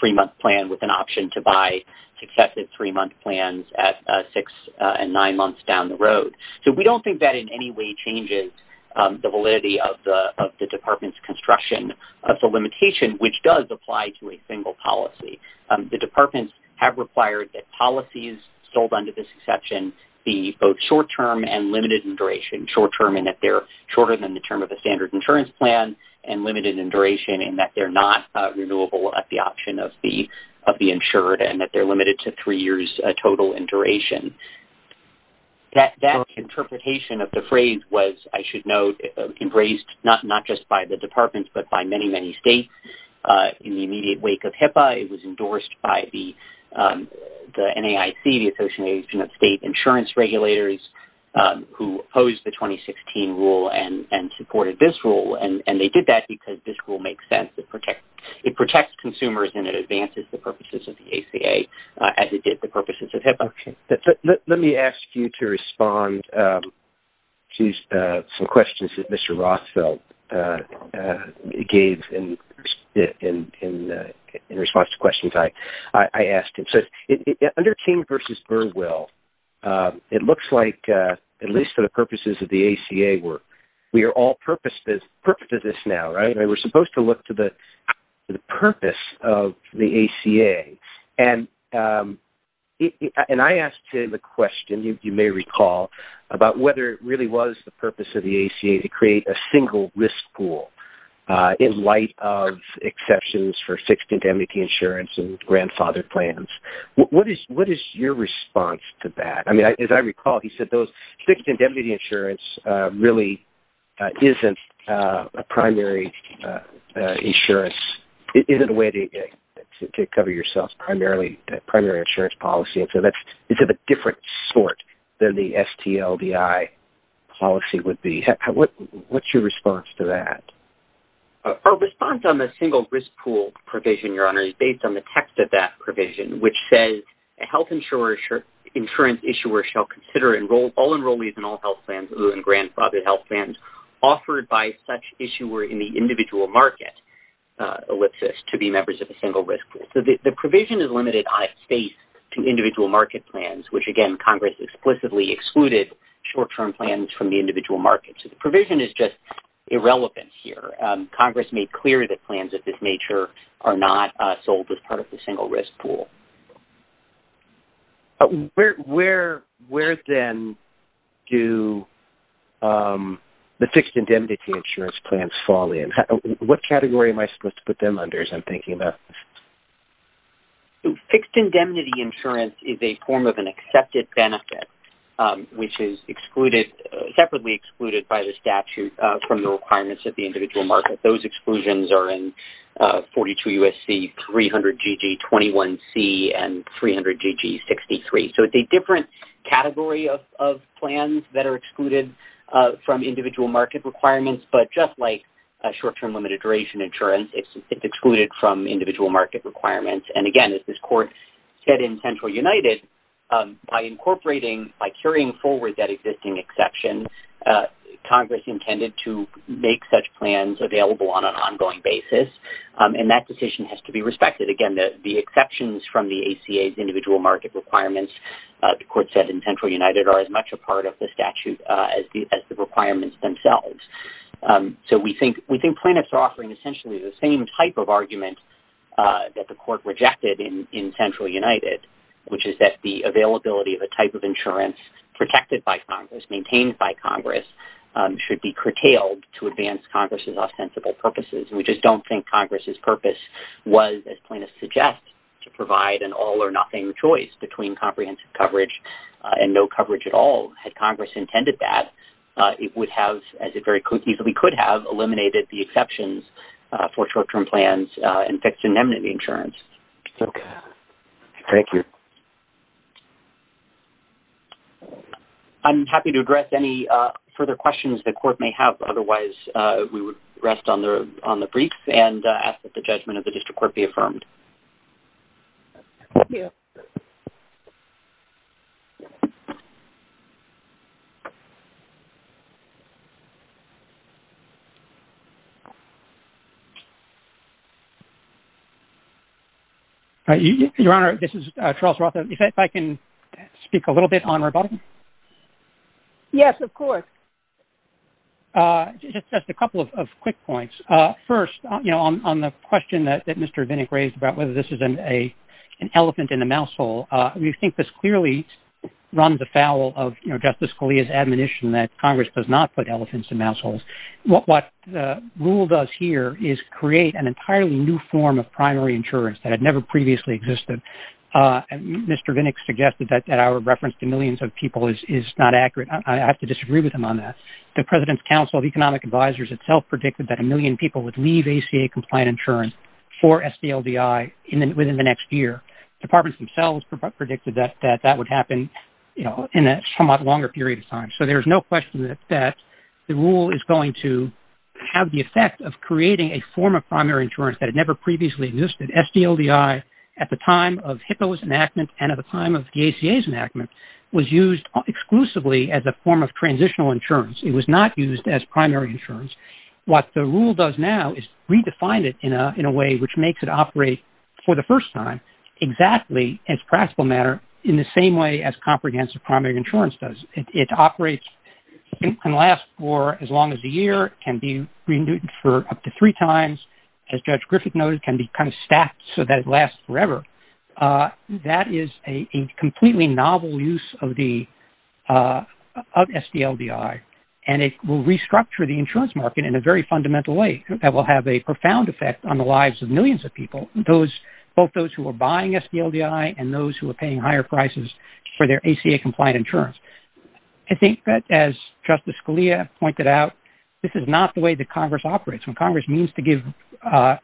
three-month insurance plan with an option to buy successive three-month plans at six and nine months down the road. So we don't think that in any way changes the validity of the department's construction of the limitation, which does apply to a single policy. The departments have required that policies sold under this exception be both short-term and limited in duration, short-term in that they're shorter than the term of the standard insurance plan and limited in duration in that they're not renewable at the option of the insured and that they're limited to three years total in duration. That interpretation of the phrase was, I should note, embraced not just by the departments but by many, many states. In the immediate wake of HIPAA, it was endorsed by the NAIC, the Association of State Insurance Regulators, who opposed the 2016 rule and supported this rule. And they did that because this rule makes sense. It protects consumers and it advances the purposes of the ACA as it did the purposes of HIPAA. Okay. Let me ask you to respond to some questions that Mr. Rothfeld gave in response to questions I asked him. So under King v. Burwell, it looks like, at least for the purposes of the ACA, we are all purposed to this now, right? We're supposed to look to the purpose of the ACA. And I asked him a question, you may recall, about whether it really was the purpose of the ACA to create a single risk pool in light of exceptions for fixed indemnity insurance and grandfather plans. What is your response to that? I mean, as I recall, he said those fixed indemnity insurance really isn't a primary insurance – isn't a way to cover yourself primarily – primary insurance policy. And so that's – it's of a different sort than the STLDI policy would be. What's your response to that? Our response on the single risk pool provision, Your Honor, is based on the text of that provision, which says, a health insurance issuer shall consider all enrollees in all health plans other than grandfather health plans offered by such issuer in the individual market, ellipsis, to be members of the single risk pool. So the provision is limited by state to individual market plans, which, again, Congress explicitly excluded short-term plans from the individual market. So the provision is just irrelevant here. Congress made clear that plans of this nature are not sold as part of the single risk pool. Where, then, do the fixed indemnity insurance plans fall in? What category am I supposed to put them under, as I'm thinking about this? Fixed indemnity insurance is a form of an accepted benefit, which is excluded – Those exclusions are in 42 U.S.C., 300 G.G., 21 C., and 300 G.G., 63. So it's a different category of plans that are excluded from individual market requirements, but just like short-term limited duration insurance, it's excluded from individual market requirements. And, again, as this Court said in Central United, by incorporating – by carrying forward that existing exception, Congress intended to make such plans available on an ongoing basis, and that decision has to be respected. Again, the exceptions from the ACA's individual market requirements, the Court said in Central United, are as much a part of the statute as the requirements themselves. So we think plaintiffs are offering essentially the same type of argument that the Court rejected in Central United, which is that the availability of a type of insurance protected by Congress, maintained by Congress, should be curtailed to advance Congress's ostensible purposes. We just don't think Congress's purpose was, as plaintiffs suggest, to provide an all-or-nothing choice between comprehensive coverage and no coverage at all. Had Congress intended that, it would have, as it very easily could have, eliminated the exceptions for short-term plans and fixed indemnity insurance. Okay. Thank you. I'm happy to address any further questions the Court may have. Otherwise, we will rest on the brief and ask that the judgment of the District Court be affirmed. Your Honor, this is Charles Roth. If I can speak a little bit on rebuttal? Yes, of course. Just a couple of quick points. First, on the question that Mr. Vinnick raised about whether this is an elephant in a mouse hole, we think this clearly runs afoul of Justice Scalia's admonition that Congress does not put elephants in mouse holes. What the rule does here is create an entirely new form of primary insurance that had never previously existed. Mr. Vinnick suggested that our reference to millions of people is not accurate. I have to disagree with him on that. The President's Council of Economic Advisers itself predicted that a million people would leave ACA-compliant insurance for SDLDI within the next year. Departments themselves predicted that that would happen in a somewhat longer period of time. So there is no question that the rule is going to have the effect of creating a form of primary insurance that had never previously existed. SDLDI, at the time of HIPAA's enactment and at the time of the ACA's enactment, was used exclusively as a form of transitional insurance. It was not used as primary insurance. What the rule does now is redefine it in a way which makes it operate for the first time exactly as practical matter in the same way as comprehensive primary insurance does. It operates and lasts for as long as a year. It can be renewed for up to three times. As Judge Griffith noted, it can be kind of stacked so that it lasts forever. That is a completely novel use of SDLDI. And it will restructure the insurance market in a very fundamental way that will have a profound effect on the lives of millions of people, both those who are buying SDLDI and those who are paying higher prices for their ACA-compliant insurance. I think that, as Justice Scalia pointed out, this is not the way that Congress operates. When Congress needs to give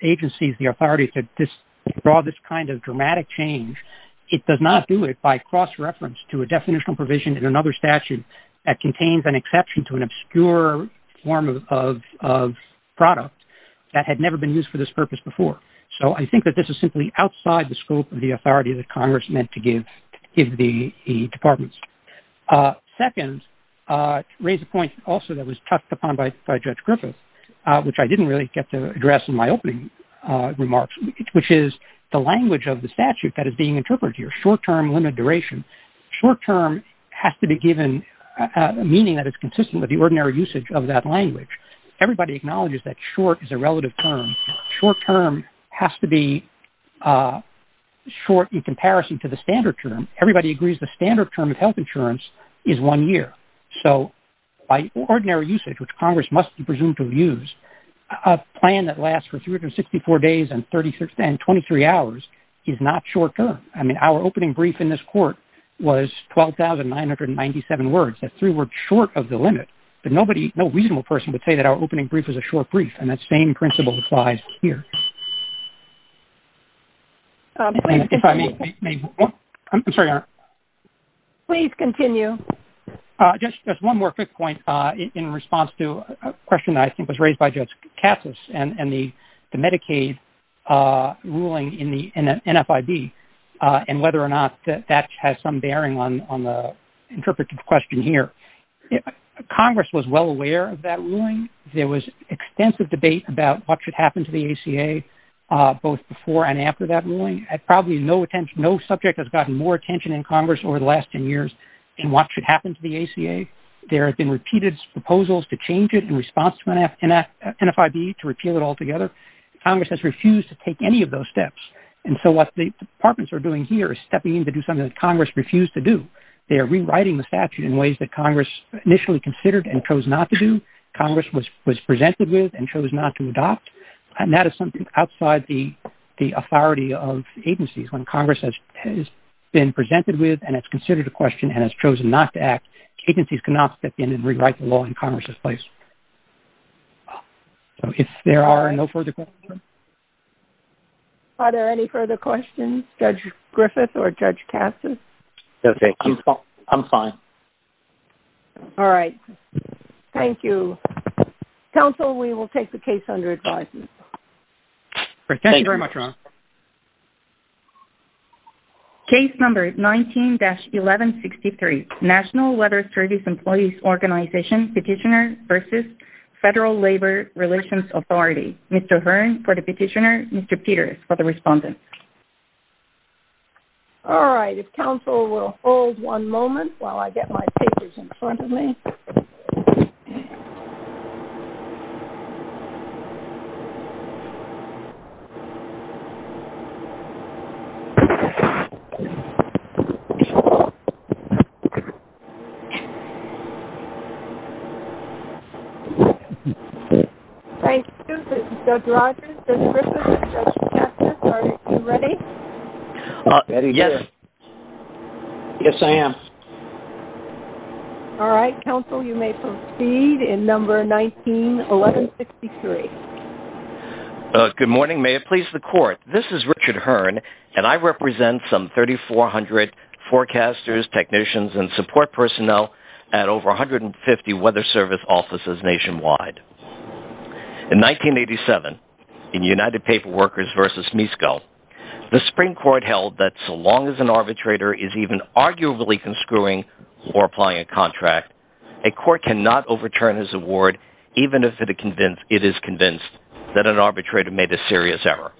agencies the authority to draw this kind of dramatic change, it does not do it by cross-reference to a definitional provision in another statute that contains an exception to an obscure form of product that had never been used for this purpose before. So I think that this is simply outside the scope of the authority that Congress meant to give the departments. Second, to raise a point also that was touched upon by Judge Griffith, which I didn't really get to address in my opening remarks, which is the language of the statute that is being interpreted here, short-term limited duration. Short-term has to be given a meaning that is consistent with the ordinary usage of that language. Everybody acknowledges that short is a relative term. Short-term has to be short in comparison to the standard term. Everybody agrees the standard term of health insurance is one year. So by ordinary usage, which Congress must presume to use, a plan that lasts for 364 days and 23 hours is not short-term. I mean, our opening brief in this court was 12,997 words. That's three words short of the limit. But nobody, no reasonable person would say that our opening brief is a short brief, and that same principle applies here. Please continue. Just one more quick point in response to a question that I think was raised by Judge Cassis and the Medicaid ruling in the NFIB, and whether or not that has some bearing on the interpreted question here. Congress was well aware of that ruling. There was extensive debate about what should happen to the ACA both before and after that ruling. Probably no subject has gotten more attention in Congress over the last 10 years in what should happen to the ACA. There have been repeated proposals to change it in response to NFIB to repeal it altogether. Congress has refused to take any of those steps. And so what the departments are doing here is stepping in to do something that Congress refused to do. They are rewriting the statute in ways that Congress initially considered and chose not to do, Congress was presented with and chose not to adopt. And that is something outside the authority of agencies. When Congress has been presented with and has considered the question and has chosen not to act, agencies cannot step in and rewrite the law in Congress's place. If there are no further questions? Are there any further questions, Judge Griffith or Judge Cassis? Okay. I'm fine. All right. Thank you. Counsel, we will take the case under advisement. Thank you very much, Ron. Case number 19-1163, National Weather Service Employees Organization Petitioner versus Federal Labor Relations Authority. Mr. Hearn for the petitioner, Mr. Peters for the respondent. All right. If counsel will hold one moment while I get my papers in front of me. Okay. Thank you. This is Judge Rogers. Judge Griffith or Judge Cassis, are you ready? Yes. Yes, I am. All right. Counsel, you may proceed in number 19-1163. Good morning. May it please the Court. This is Richard Hearn, and I represent some 3,400 forecasters, technicians, and support personnel at over 150 weather service offices nationwide. In 1987, in United Paper Workers versus MISCO, the Supreme Court held that so long as an arbitrator is even arguably conscruing or applying a contract, a court cannot overturn his award even if it is convinced that an arbitrator made a serious error.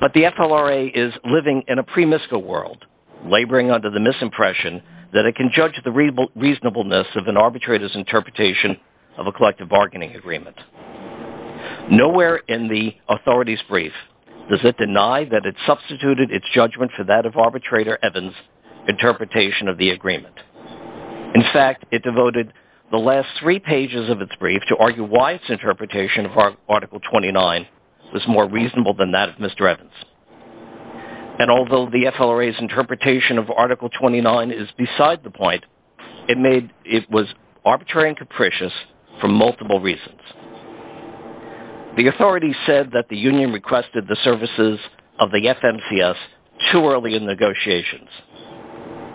But the FLRA is living in a pre-MISCO world, laboring under the misimpression that it can judge the reasonableness of an arbitrator's interpretation of a collective bargaining agreement. Nowhere in the authorities' brief does it deny that it substituted its judgment for that of arbitrator Evans' interpretation of the agreement. In fact, it devoted the last three pages of its brief to argue why its interpretation of Article 29 was more reasonable than that of Mr. Evans. And although the FLRA's interpretation of Article 29 is beside the point, it was arbitrary and capricious for multiple reasons. The authorities said that the union requested the services of the FMCS too early in negotiations,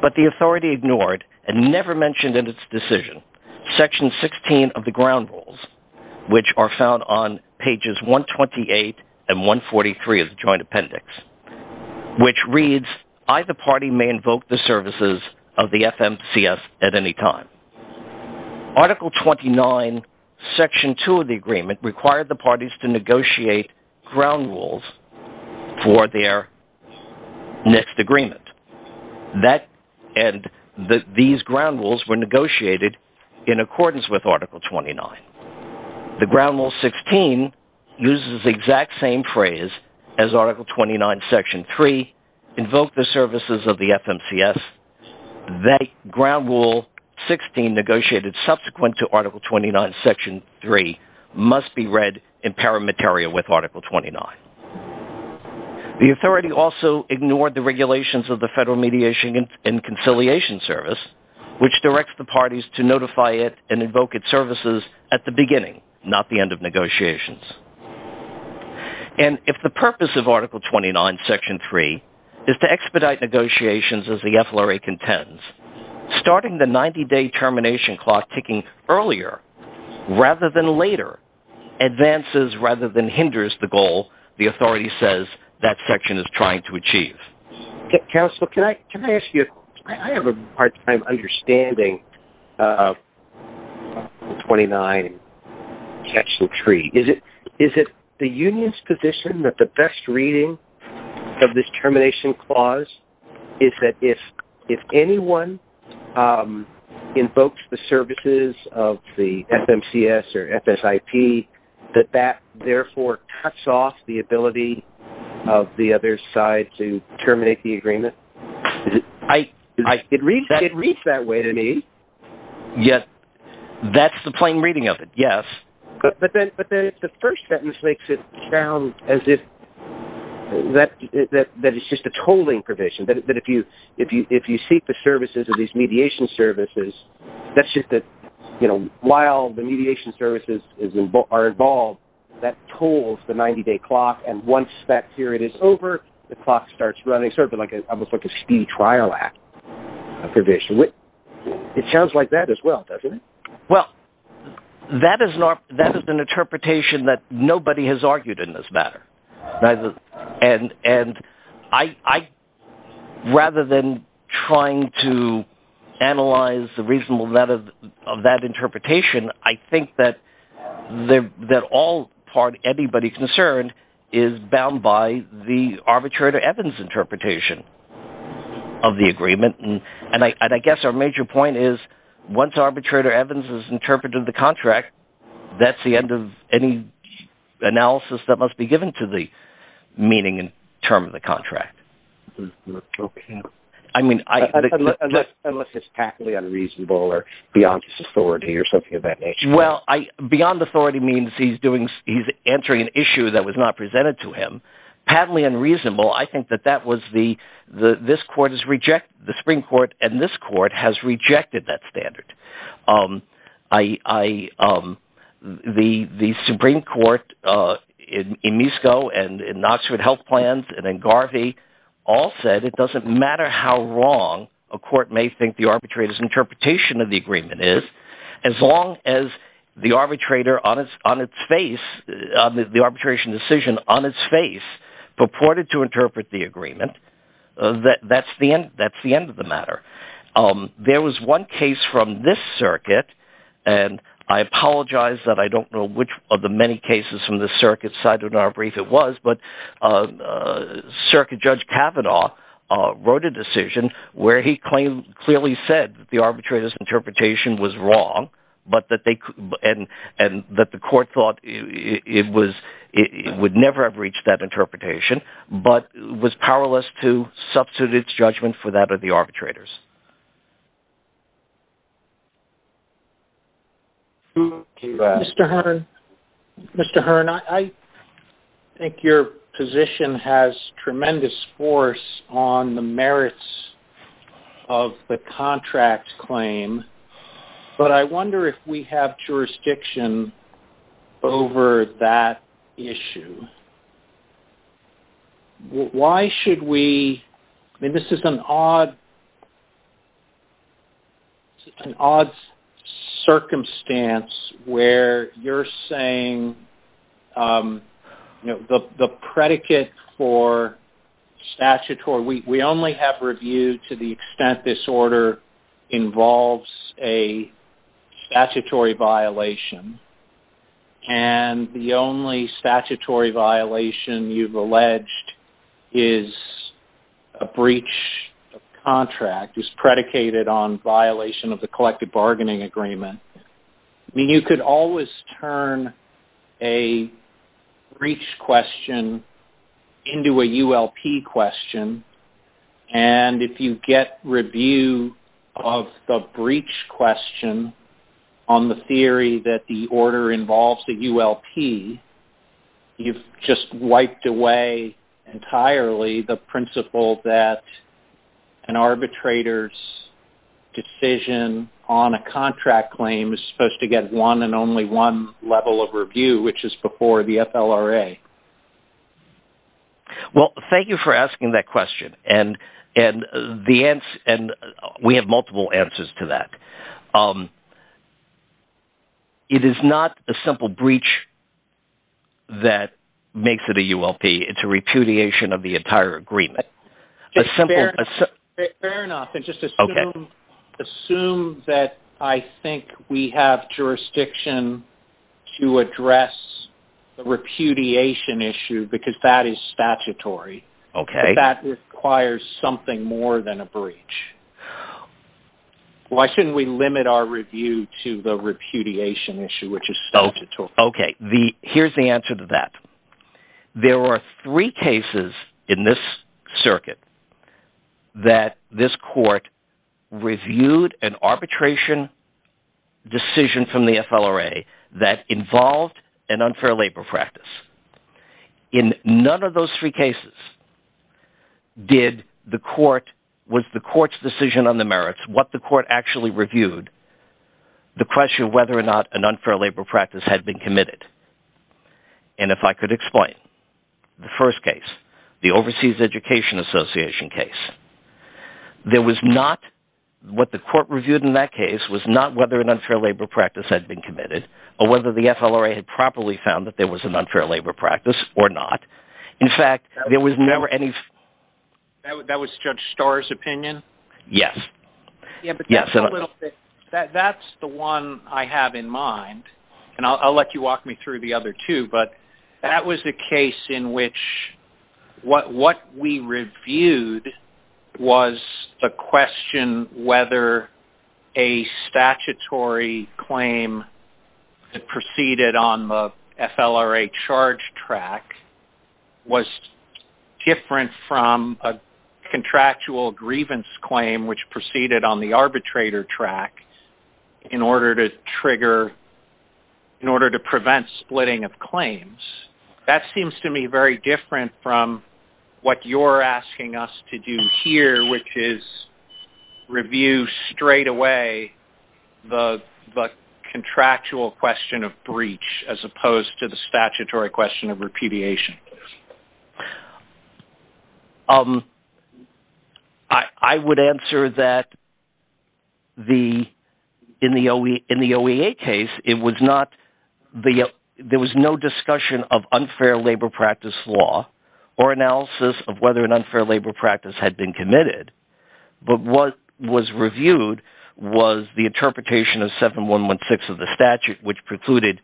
but the authority ignored and never mentioned in its decision Section 16 of the ground rules, which are found on pages 128 and 143 of the Joint Appendix, which reads, either party may invoke the services of the FMCS at any time. Article 29, Section 2 of the agreement, required the parties to negotiate ground rules for their next agreement. And these ground rules were negotiated in accordance with Article 29. The ground rule 16 uses the exact same phrase as Article 29, Section 3, invoke the services of the FMCS. The ground rule 16 negotiated subsequent to Article 29, Section 3, must be read in paramateria with Article 29. The authority also ignored the regulations of the Federal Mediation and Conciliation Service, which directs the parties to notify it and invoke its services at the beginning, not the end of negotiations. And if the purpose of Article 29, Section 3, is to expedite negotiations as the FLRA contends, starting the 90-day termination clock ticking earlier rather than later, advances rather than hinders the goal the authority says that section is trying to achieve. Counsel, can I ask you, I have a hard time understanding Article 29, Section 3. Is it the union's position that the best reading of this termination clause is that if anyone invokes the services of the FMCS or FSIP, that that therefore cuts off the ability of the other side to terminate the agreement? It reads that way to me. Yes, that's the plain reading of it, yes. But then the first sentence makes it sound as if that is just a tolling provision. But if you seek the services of these mediation services, that's just that while the mediation services are involved, that tolls the 90-day clock, and once that period is over, the clock starts running. It's almost like a speed trial act. It sounds like that as well, doesn't it? Well, that is an interpretation that nobody has argued in this matter. And rather than trying to analyze the reasonableness of that interpretation, I think that all part anybody concerned is bound by the arbitrator Evans interpretation of the agreement. And I guess our major point is once arbitrator Evans has interpreted the contract, that's the end of any analysis that must be given to the meaning and term of the contract. I mean – Unless it's patently unreasonable or beyond his authority or something of that nature. Well, beyond authority means he's answering an issue that was not presented to him. Patently unreasonable, I think that that was the – this court has rejected – the Supreme Court and this court has rejected that standard. The Supreme Court in NISCO and in Knoxwood Health Plan and in Garvey all said it doesn't matter how wrong a court may think the arbitrator's interpretation of the agreement is as long as the arbitrator on its face – the arbitration decision on its face purported to interpret the agreement. That's the end of the matter. There was one case from this circuit, and I apologize that I don't know which of the many cases from this circuit, so I don't know how brief it was. But Circuit Judge Kavanaugh wrote a decision where he clearly said the arbitrator's interpretation was wrong and that the court thought it would never have reached that interpretation but was powerless to substitute its judgment for that of the arbitrators. Mr. Hearn, I think your position has tremendous force on the merits of the contract claim, but I wonder if we have jurisdiction over that issue. Why should we – I mean, this is an odd circumstance where you're saying the predicate for statutory – we only have reviewed to the extent this order involves a statutory violation, and the only statutory violation you've alleged is a breach of contract is predicated on violation of the collective bargaining agreement. I mean, you could always turn a breach question into a ULP question, and if you get review of the breach question on the theory that the order involves a ULP, you've just wiped away entirely the principle that an arbitrator's decision on a contract claim is supposed to get one and only one level of review, which is before the FLRA. Well, thank you for asking that question, and we have multiple answers to that. It is not a simple breach that makes it a ULP. It's a repudiation of the entire agreement. Fair enough. Just assume that I think we have jurisdiction to address the repudiation issue because that is statutory. That requires something more than a breach. Why shouldn't we limit our review to the repudiation issue, which is statutory? Here's the answer to that. There are three cases in this circuit that this court reviewed an arbitration decision from the FLRA that involved an unfair labor practice. In none of those three cases was the court's decision on the merits, what the court actually reviewed, the question whether or not an unfair labor practice had been committed. And if I could explain, the first case, the Overseas Education Association case, what the court reviewed in that case was not whether an unfair labor practice had been committed or whether the FLRA had properly found that there was an unfair labor practice or not. That was Judge Starr's opinion? Yes. That's the one I have in mind, and I'll let you walk me through the other two. That was the case in which what we reviewed was the question whether a statutory claim that proceeded on the FLRA charge track was different from a contractual grievance claim which proceeded on the arbitrator track in order to trigger, in order to prevent splitting of claims. That seems to me very different from what you're asking us to do here, which is review straight away the contractual question of breach as opposed to the statutory question of repudiation. I would answer that in the OEA case, it was not – there was no discussion of unfair labor practice law or analysis of whether an unfair labor practice had been committed. But what was reviewed was the interpretation of 7116 of the statute, which precluded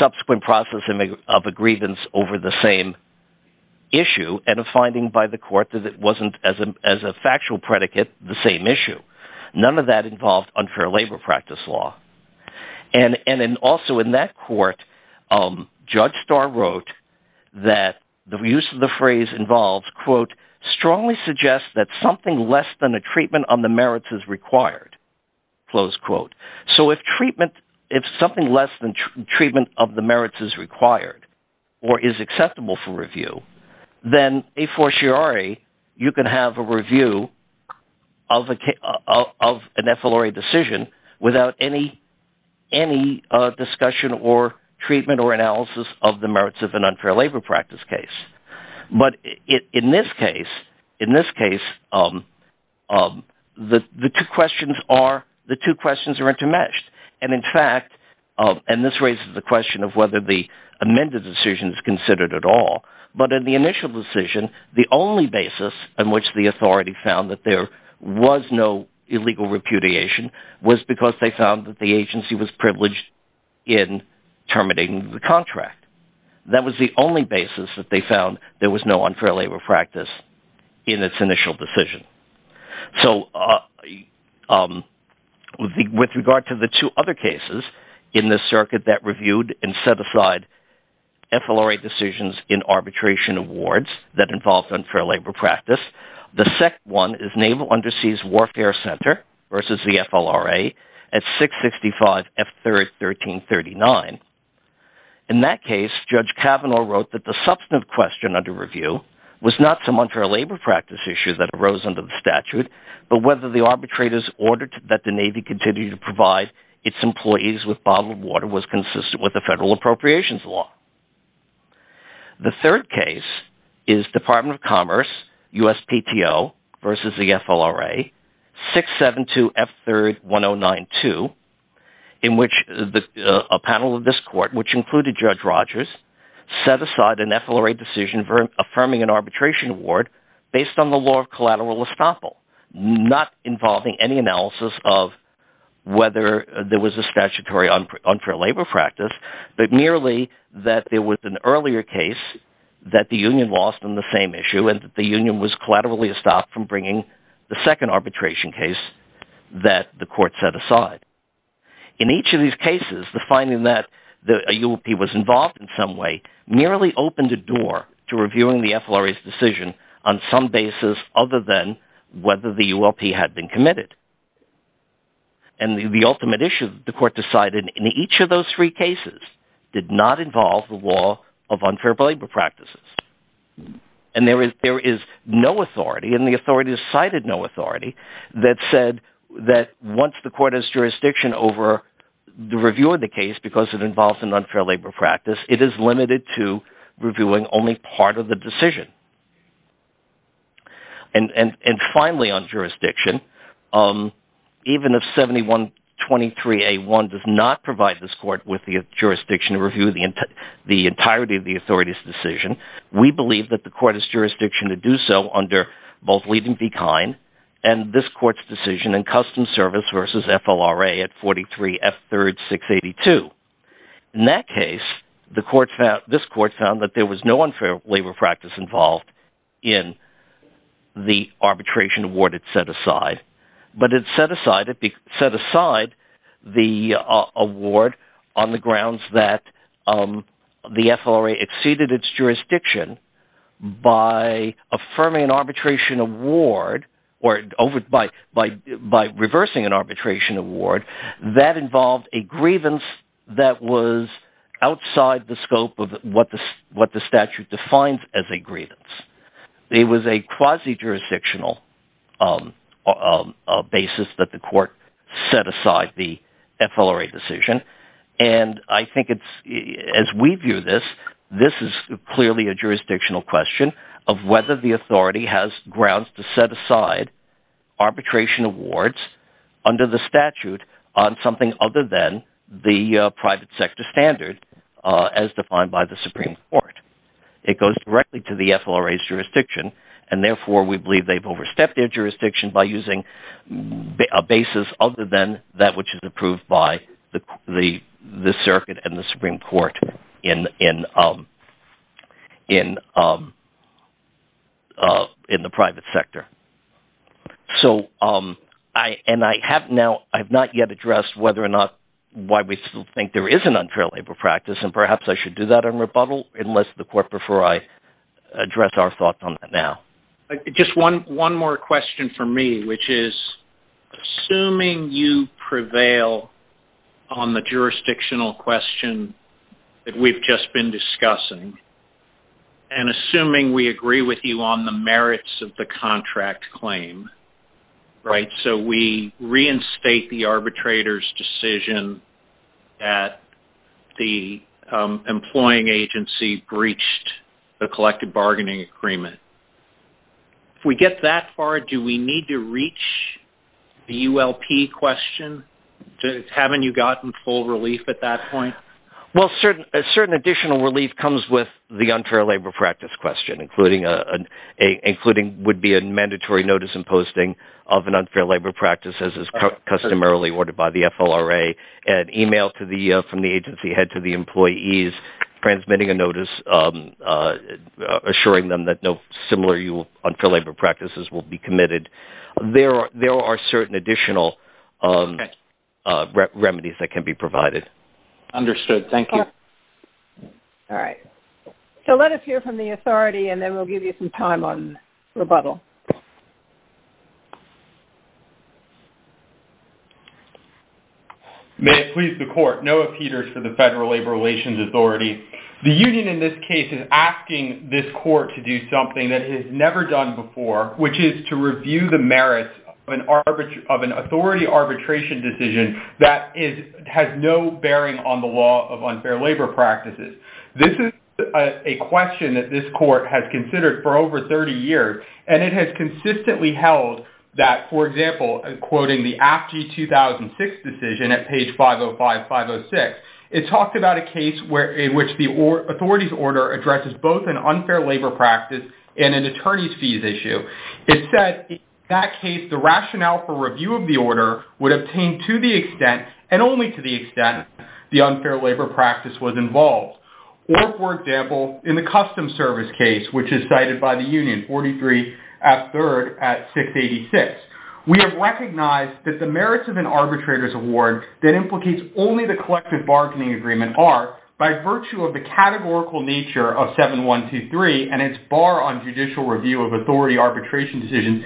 subsequent processing of a grievance over the same issue and a finding by the court that it wasn't, as a factual predicate, the same issue. None of that involved unfair labor practice law. And also in that court, Judge Starr wrote that the use of the phrase involves, quote, strongly suggests that something less than a treatment of the merits is required, close quote. So if treatment – if something less than treatment of the merits is required or is acceptable for review, then a fortiori you can have a review of an FLRA decision without any discussion or treatment or analysis of the merits of an unfair labor practice case. But in this case, the two questions are intermeshed, and in fact – and this raises the question of whether the amended decision is considered at all. But in the initial decision, the only basis on which the authority found that there was no illegal repudiation was because they found that the agency was privileged in terminating the contract. That was the only basis that they found there was no unfair labor practice in its initial decision. So with regard to the two other cases in this circuit that reviewed and set aside FLRA decisions in arbitration awards that involved unfair labor practice, the second one is Naval Underseas Warfare Center versus the FLRA at 665 F-1339. In that case, Judge Kavanaugh wrote that the substantive question under review was not some unfair labor practice issue that arose under the statute but whether the arbitrators ordered that the Navy continue to provide its employees with bottled water was consistent with the federal appropriations law. The third case is Department of Commerce USPTO versus the FLRA 672 F-31092 in which a panel of this court, which included Judge Rogers, set aside an FLRA decision affirming an arbitration award based on the law of collateral estoppel… …not involving any analysis of whether there was a statutory unfair labor practice but merely that there was an earlier case that the union lost on the same issue and the union was collateral estoppel from bringing the second arbitration case that the court set aside. In each of these cases, the finding that a ULP was involved in some way merely opened a door to reviewing the FLRA's decision on some basis other than whether the ULP had been committed. And the ultimate issue the court decided in each of those three cases did not involve the law of unfair labor practices. And there is no authority, and the authorities cited no authority that said that once the court has jurisdiction over the review of the case because it involves an unfair labor practice, it is limited to reviewing only part of the decision. And finally on jurisdiction, even if 7123A1 does not provide this court with the jurisdiction to review the entirety of the authority's decision, we believe that the court has jurisdiction to do so under both Levy v. Kine and this court's decision in custom service versus FLRA at 43 F-3682. In that case, this court found that there was no unfair labor practice involved in the arbitration award it set aside. But it set aside the award on the grounds that the FLRA exceeded its jurisdiction by affirming an arbitration award or by reversing an arbitration award. That involved a grievance that was outside the scope of what the statute defines as a grievance. It was a quasi-jurisdictional basis that the court set aside the FLRA decision. And I think it's – as we view this, this is clearly a jurisdictional question of whether the authority has grounds to set aside arbitration awards under the statute on something other than the private sector standard as defined by the Supreme Court. It goes directly to the FLRA's jurisdiction, and therefore we believe they've overstepped their jurisdiction by using a basis other than that which is approved by the circuit and the Supreme Court in the private sector. So I – and I have now – I have not yet addressed whether or not – why we still think there is an unfair labor practice, and perhaps I should do that in rebuttal unless the court – before I address our thoughts on that now. Just one more question for me, which is, assuming you prevail on the jurisdictional question that we've just been discussing, and assuming we agree with you on the merits of the contract claim, right, if we get that far, do we need to reach the ULP question? Haven't you gotten full relief at that point? Well, a certain additional relief comes with the unfair labor practice question, including – would be a mandatory notice and posting of an unfair labor practice as is customarily ordered by the FLRA, an email from the agency head to the employees transmitting a notice assuring them that no similar unfair labor practices will be committed. There are certain additional remedies that can be provided. Understood. Thank you. All right. So let us hear from the authority, and then we'll give you some time on rebuttal. May it please the court. Noah Peters for the Federal Labor Relations Authority. The union in this case is asking this court to do something that it has never done before, which is to review the merits of an authority arbitration decision that has no bearing on the law of unfair labor practices. This is a question that this court has considered for over 30 years, and it has consistently held that, for example, quoting the AFG 2006 decision at page 505, 506. It talked about a case in which the authority's order addresses both an unfair labor practice and an attorney's fees issue. It said, in that case, the rationale for review of the order would obtain to the extent and only to the extent the unfair labor practice was involved. Or, for example, in the custom service case, which is cited by the union, 43 at 3rd at 686. We have recognized that the merits of an arbitrator's award that implicates only the collective bargaining agreement are, by virtue of the categorical nature of 7123 and its bar on judicial review of authority arbitration decisions,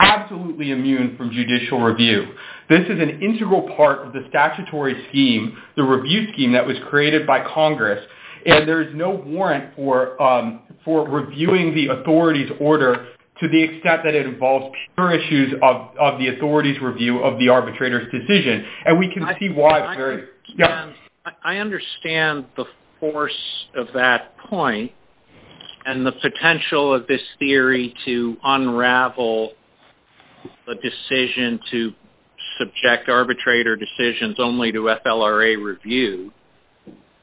absolutely immune from judicial review. This is an integral part of the statutory scheme, the review scheme that was created by Congress, and there is no warrant for reviewing the authority's order to the extent that it involves pure issues of the authority's review of the arbitrator's decision. I understand the force of that point, and the potential of this theory to unravel a decision to subject arbitrator decisions only to FLRA review.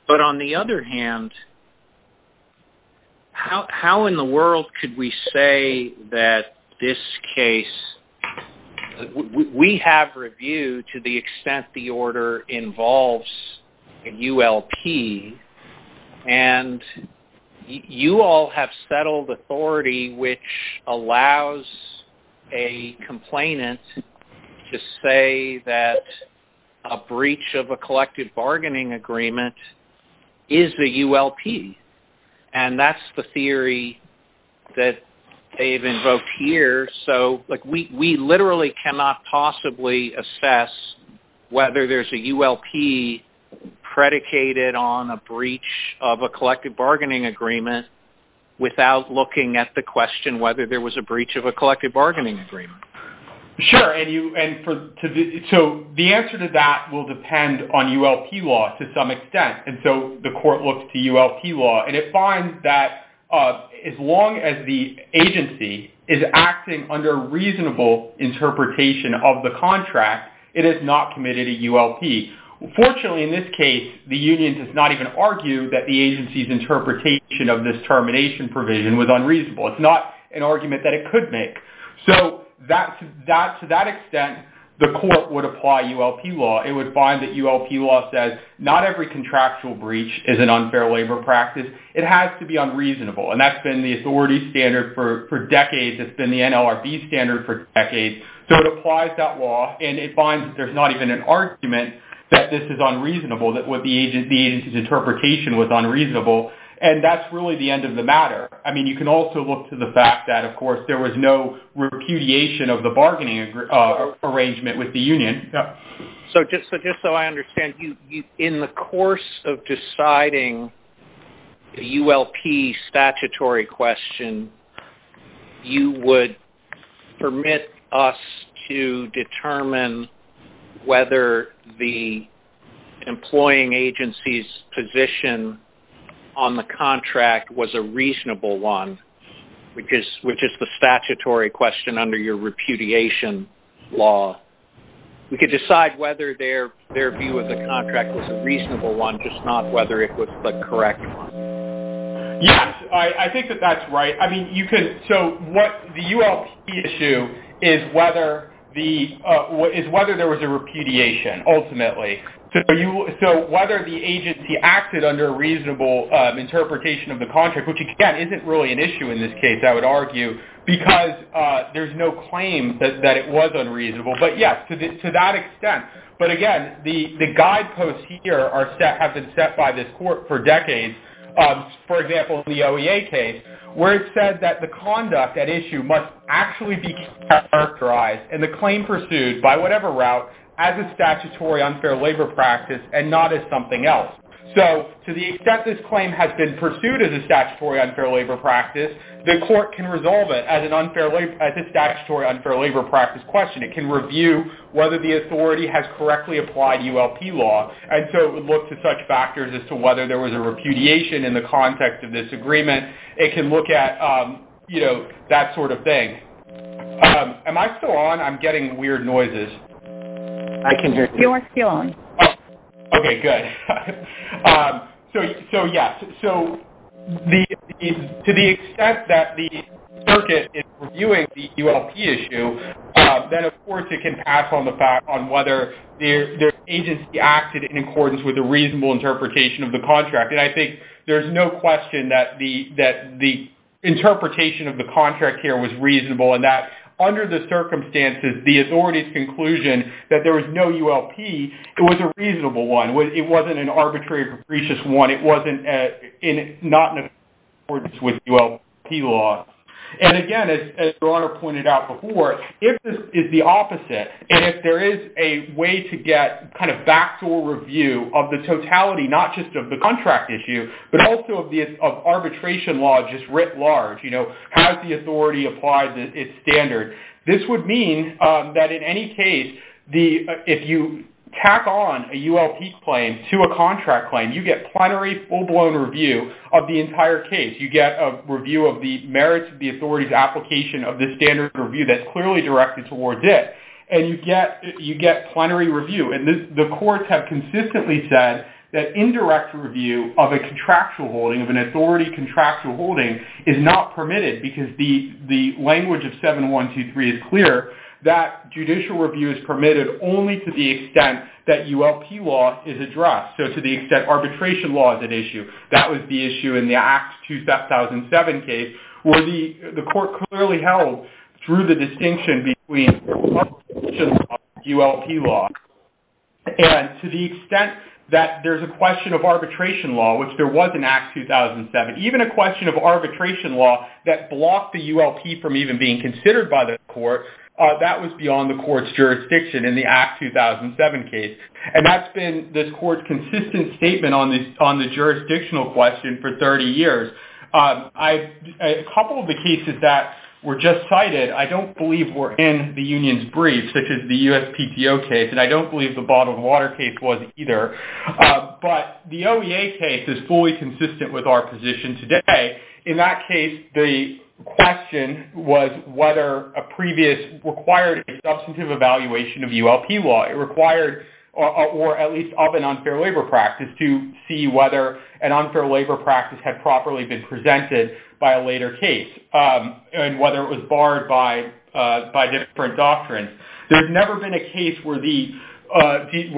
But, on the other hand, how in the world could we say that this case, we have reviewed to the extent the order involves a ULP, and you all have settled authority which allows a complainant to say that a breach of a collective bargaining agreement is the ULP. And that's the theory that they've invoked here, so we literally cannot possibly assess whether there's a ULP predicated on a breach of a collective bargaining agreement without looking at the question whether there was a breach of a collective bargaining agreement. Sure, and so the answer to that will depend on ULP law to some extent. And so the court looked to ULP law, and it finds that as long as the agency is acting under reasonable interpretation of the contract, it is not committed a ULP. Fortunately, in this case, the union does not even argue that the agency's interpretation of this termination provision was unreasonable. It's not an argument that it could make. So to that extent, the court would apply ULP law. It would find that ULP law says not every contractual breach is an unfair labor practice. It has to be unreasonable, and that's been the authority standard for decades. It's been the NLRB standard for decades. So it applies that law, and it finds that there's not even an argument that this is unreasonable, that the agency's interpretation was unreasonable. And that's really the end of the matter. I mean, you can also look to the fact that, of course, there was no repudiation of the bargaining arrangement with the union. So just so I understand, in the course of deciding the ULP statutory question, you would permit us to determine whether the employing agency's position on the contract was a reasonable one, which is the statutory question under your repudiation law. We could decide whether their view of the contract was a reasonable one, just not whether it was a correct one. Yes, I think that that's right. I mean, so the ULP issue is whether there was a repudiation, ultimately. So whether the agency acted under a reasonable interpretation of the contract, which, again, isn't really an issue in this case, I would argue, because there's no claim that it was unreasonable. But yes, to that extent. But again, the guideposts here have been set by this court for decades. For example, the OEA case, where it said that the conduct at issue must actually be characterized in the claim pursued by whatever route as a statutory unfair labor practice and not as something else. So to the extent this claim has been pursued as a statutory unfair labor practice, the court can resolve it as a statutory unfair labor practice question. It can review whether the authority has correctly applied ULP law. And so it would look to such factors as to whether there was a repudiation in the context of this agreement. It can look at, you know, that sort of thing. Am I still on? I'm getting weird noises. You are still on. Okay, good. So yes. So to the extent that the circuit is reviewing the ULP issue, then of course it can pass on the fact on whether the agency acted in accordance with a reasonable interpretation of the contract. And I think there's no question that the interpretation of the contract here was reasonable and that under the circumstances, the authority's conclusion that there was no ULP, it was a reasonable one. It wasn't an arbitrary capricious one. It wasn't not in accordance with ULP law. And again, as your Honor pointed out before, if this is the opposite and if there is a way to get kind of factual review of the totality, not just of the contract issue, but also of arbitration law just writ large, you know, This would mean that in any case, if you tack on a ULP claim to a contract claim, you get plenary full-blown review of the entire case. You get a review of the merits of the authority's application of the standard review that's clearly directed towards it. And you get plenary review. And the courts have consistently said that indirect review of a contractual holding, of an authority contractual holding, is not permitted because the language of 7123 is clear. That judicial review is permitted only to the extent that ULP law is addressed. So to the extent arbitration law is at issue. And to the extent that there's a question of arbitration law, which there was in Act 2007, even a question of arbitration law that blocked the ULP from even being considered by the court, that was beyond the court's jurisdiction in the Act 2007 case. And that's been the court's consistent statement on the jurisdictional question for 30 years. A couple of the cases that were just cited, I don't believe were in the union's brief, such as the USPTO case. And I don't believe the Bottled Water case was either. But the OEA case is fully consistent with our position today. In that case, the question was whether a previous required substantive evaluation of ULP law. Or at least of an unfair labor practice to see whether an unfair labor practice had properly been presented by a later case. And whether it was barred by different doctrines. There's never been a case where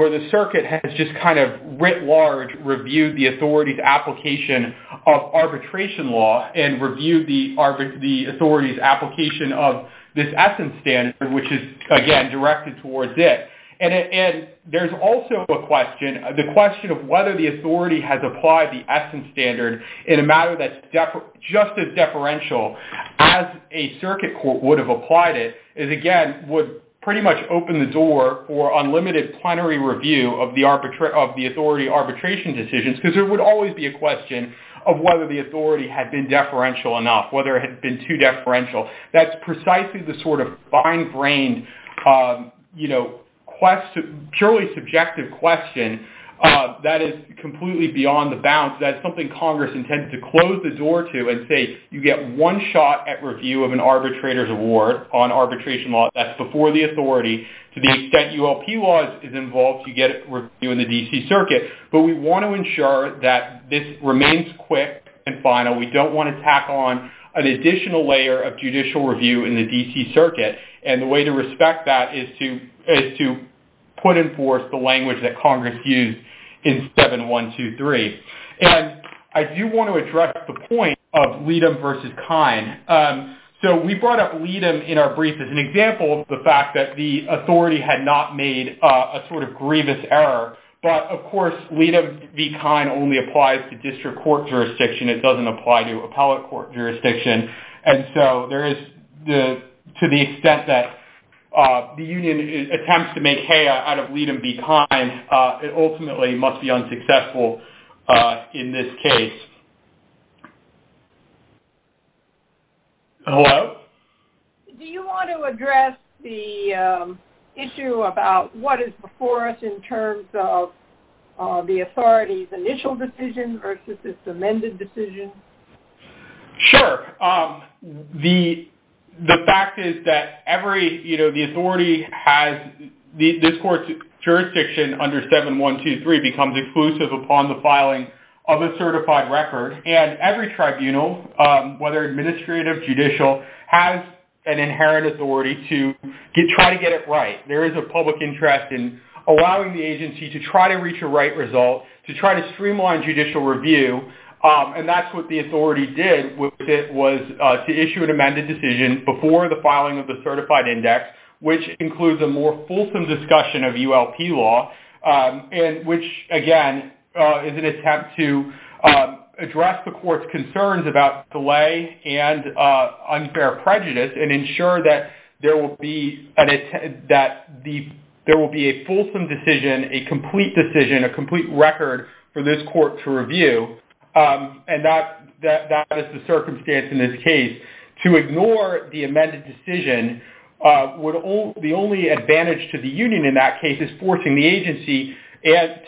the circuit has just kind of writ large reviewed the authority's application of arbitration law. And reviewed the authority's application of this essence standard, which is, again, directed towards it. And there's also a question, the question of whether the authority has applied the essence standard in a matter that's just as deferential as a circuit court would have applied it. Is, again, would pretty much open the door for unlimited plenary review of the authority arbitration decisions. Because there would always be a question of whether the authority had been deferential enough. Whether it had been too deferential. That's precisely the sort of fine-brained, you know, purely subjective question that is completely beyond the bounds. That's something Congress intended to close the door to and say, you get one shot at review of an arbitrator's award on arbitration law. That's before the authority. To the extent ULP law is involved, you get it reviewed in the D.C. circuit. But we want to ensure that this remains quick and final. We don't want to tack on an additional layer of judicial review in the D.C. circuit. And the way to respect that is to put in force the language that Congress used in 7123. And I do want to address the point of Leadham v. Kine. So we brought up Leadham in our brief as an example of the fact that the authority had not made a sort of grievous error. Of course, Leadham v. Kine only applies to district court jurisdiction. It doesn't apply to appellate court jurisdiction. And so there is to the extent that the union attempts to make hay out of Leadham v. Kine, it ultimately must be unsuccessful in this case. Hello? Do you want to address the issue about what is before us in terms of the authority's initial decision versus its amended decision? Sure. The fact is that every, you know, the authority has, this court's jurisdiction under 7123 becomes exclusive upon the filing of a certified record. And every tribunal, whether administrative, judicial, has an inherent authority to try to get it right. There is a public interest in allowing the agency to try to reach a right result, to try to streamline judicial review. And that's what the authority did with it was to issue an amended decision before the filing of the certified index, which includes a more fulsome discussion of ULP law, which, again, is an attempt to address the court's concerns about delay and unfair prejudice and ensure that there will be a fulsome decision, a complete decision, a complete record for this court to review. And that is the circumstance in this case. To ignore the amended decision, the only advantage to the union in that case is forcing the agency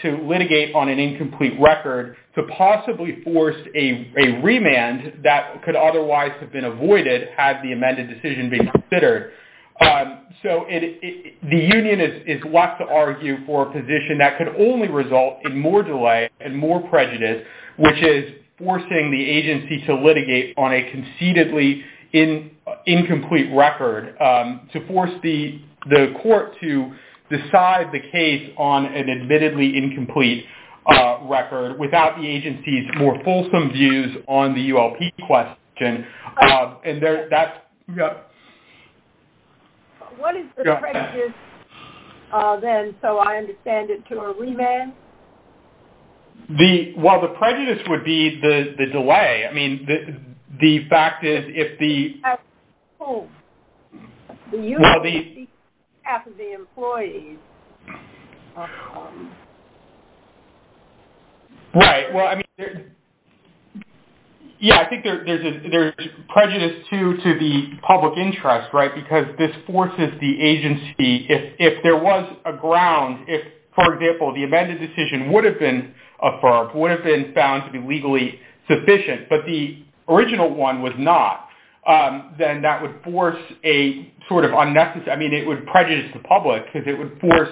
to litigate on an incomplete record, to possibly force a remand that could otherwise have been avoided had the amended decision been considered. So the union is left to argue for a position that could only result in more delay and more prejudice, which is forcing the agency to litigate on a concededly incomplete record, to force the court to decide the case on an admittedly incomplete record without the agency's more fulsome views on the ULP question. What is the prejudice, then, so I understand it, to a remand? Well, the prejudice would be the delay. I mean, the fact is if the... At whom? The union or the employees? Right. Well, I mean, yeah, I think there's prejudice, too, to the public interest, right, because this forces the agency. If there was a ground, if, for example, the amended decision would have been affirmed, would have been found to be legally sufficient, but the original one was not, then that would force a sort of unnecessary... I mean, it would prejudice the public because it would force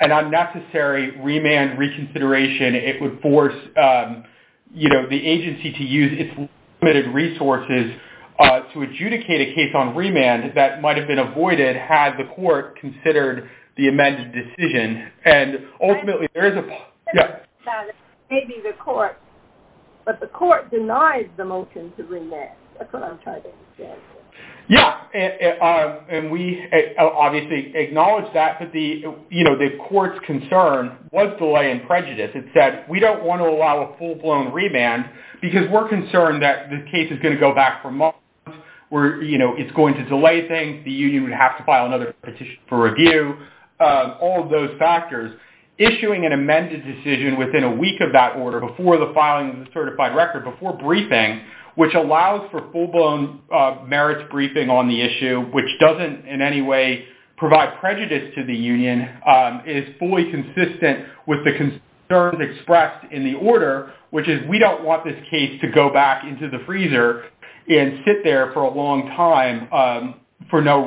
an unnecessary remand reconsideration. It would force, you know, the agency to use its limited resources to adjudicate a case on remand that might have been avoided had the court considered the amended decision, and ultimately there is a... Maybe the court, but the court denies the motion to remand. That's what I'm trying to understand. Yeah, and we obviously acknowledge that, but the, you know, the court's concern was delay and prejudice. It said, we don't want to allow a full-blown remand because we're concerned that the case is going to go back for months. We're, you know, it's going to delay things. The union would have to file another petition for review, all of those factors. Issuing an amended decision within a week of that order, before the filing of the certified record, before briefing, which allows for full-blown merits briefing on the issue, which doesn't in any way provide prejudice to the union, and is fully consistent with the concerns expressed in the order, which is we don't want this case to go back into the freezer and sit there for a long time for no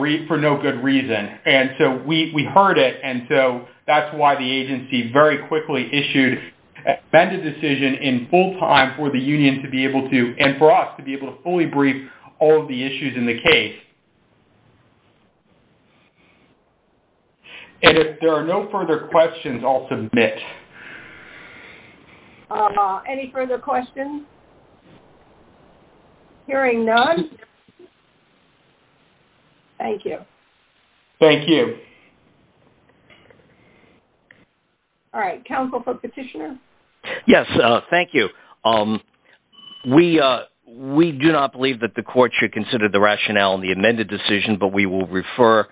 good reason. And so we heard it, and so that's why the agency very quickly issued an amended decision in full time for the union to be able to, and for us to be able to fully brief all of the issues in the case. And if there are no further questions, I'll submit. Any further questions? Hearing none, thank you. Thank you. All right, counsel for petitioner? Yes, thank you. We do not believe that the court should consider the rationale in the amended decision, but we will refer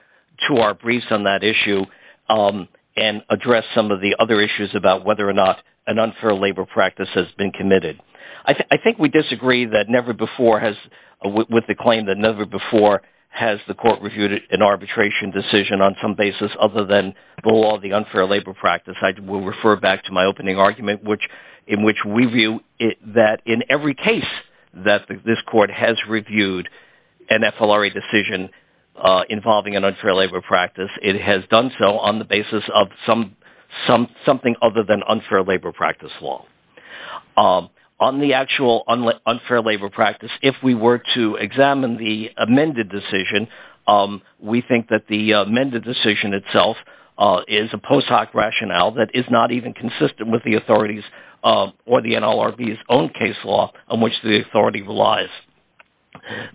to our briefs on that issue and address some of the other issues about whether or not an unfair labor practice has been committed. I think we disagree with the claim that never before has the court reviewed an arbitration decision on some basis other than the law of the unfair labor practice. I will refer back to my opening argument in which we view that in every case that this court has reviewed an FLRA decision involving an unfair labor practice, it has done so on the basis of something other than unfair labor practice law. On the actual unfair labor practice, if we were to examine the amended decision, we think that the amended decision itself is a post hoc rationale that is not even consistent with the authorities or the NLRB's own case law on which the authority relies.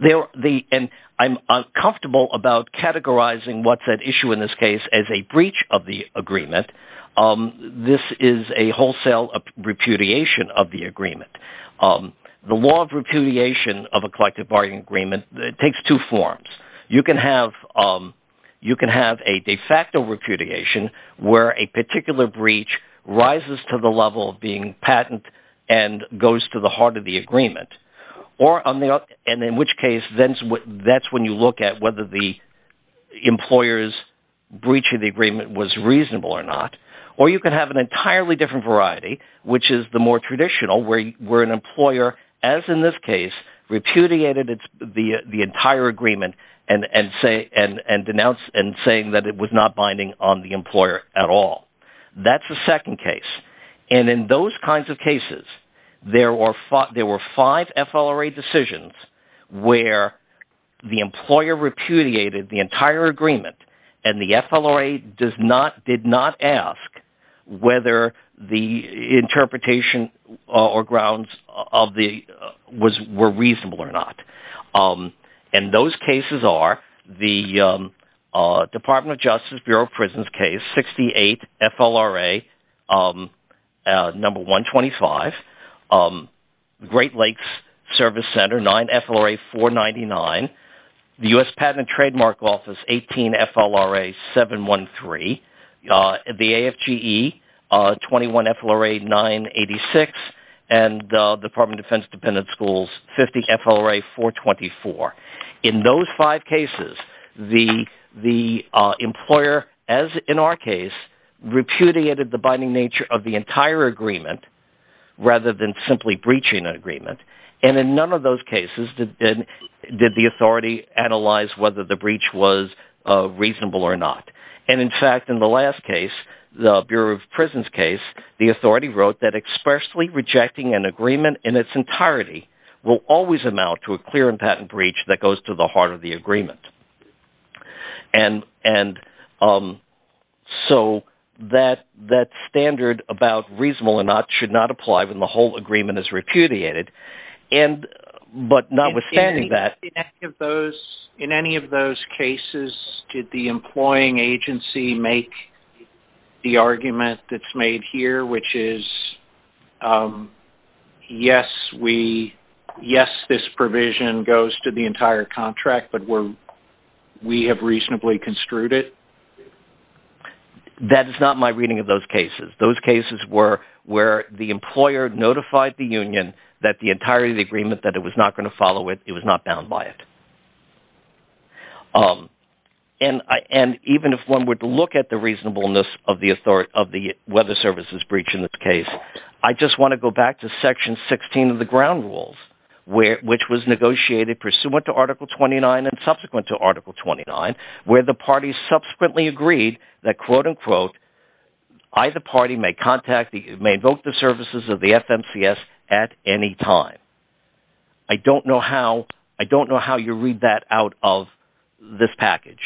And I'm comfortable about categorizing what's at issue in this case as a breach of the agreement. This is a wholesale repudiation of the agreement. The law of repudiation of a collective bargaining agreement takes two forms. You can have a de facto repudiation where a particular breach rises to the level of being patent and goes to the heart of the agreement. And in which case, that's when you look at whether the employer's breach of the agreement was reasonable or not. Or you can have an entirely different variety which is the more traditional where an employer, as in this case, repudiated the entire agreement and denounced and saying that it was not binding on the employer at all. That's the second case. And in those kinds of cases, there were five FLRA decisions where the employer repudiated the entire agreement and the FLRA did not ask whether the interpretation or grounds were reasonable or not. And those cases are the Department of Justice Bureau of Prisons case 68 FLRA 125, Great Lakes Service Center 9 FLRA 499, the U.S. Patent and Trademark Office 18 FLRA 713, the AFGE 21 FLRA 986, and the Department of Defense Dependent Schools 50 FLRA 424. In those five cases, the employer, as in our case, repudiated the binding nature of the entire agreement rather than simply breaching an agreement. And in none of those cases did the authority analyze whether the breach was reasonable or not. And in fact, in the last case, the Bureau of Prisons case, the authority wrote that expressly rejecting an agreement in its entirety will always amount to a clear and patent breach that goes to the heart of the agreement. And so that standard about reasonable or not should not apply when the whole agreement is repudiated. In any of those cases, did the employing agency make the argument that's made here, which is, yes, this provision goes to the entire contract, but we have reasonably construed it? That is not my reading of those cases. Those cases were where the employer notified the union that the entirety of the agreement, that it was not going to follow it, it was not bound by it. And even if one were to look at the reasonableness of the weather services breach in this case, I just want to go back to Section 16 of the ground rules, which was negotiated pursuant to Article 29 and subsequent to Article 29, where the parties subsequently agreed that, quote-unquote, I, the party, may invoke the services of the FMCS at any time. I don't know how you read that out of this package.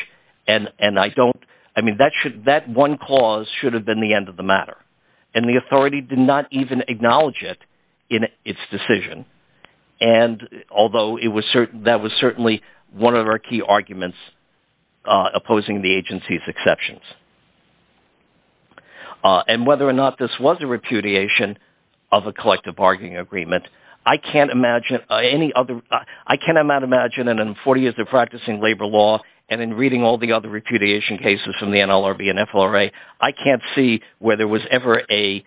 That one clause should have been the end of the matter, and the authority did not even acknowledge it in its decision, although that was certainly one of our key arguments opposing the agency's exceptions. And whether or not this was a repudiation of a collective bargaining agreement, I can't imagine in 40 years of practicing labor law and in reading all the other repudiation cases from the NLRB and FLRA, I can't see where there was ever a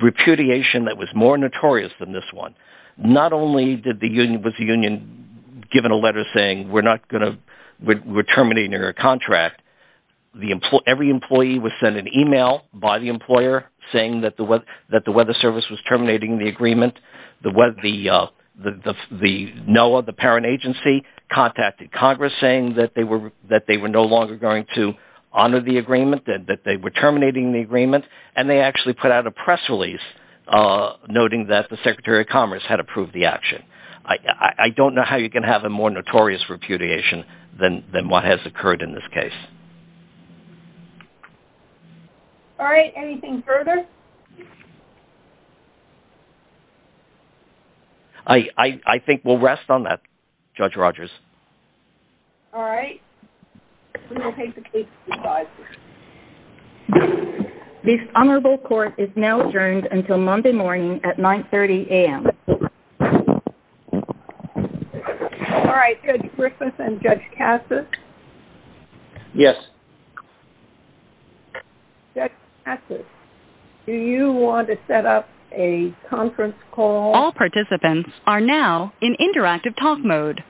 repudiation that was more notorious than this one. Not only was the union given a letter saying we're terminating our contract, every employee was sent an email by the employer saying that the weather service was terminating the agreement. The NOAA, the parent agency, contacted Congress saying that they were no longer going to honor the agreement, that they were terminating the agreement, and they actually put out a press release noting that the Secretary of Commerce had approved the action. I don't know how you can have a more notorious repudiation than what has occurred in this case. All right, anything further? I think we'll rest on that, Judge Rogers. All right. This honorable court is now adjourned until Monday morning at 9.30 a.m. All right, Judge Griffith and Judge Cassis? Yes. Judge Cassis, do you want to set up a conference call? All participants are now in interactive talk mode.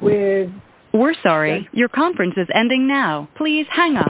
We're sorry, your conference is ending now. Please hang up.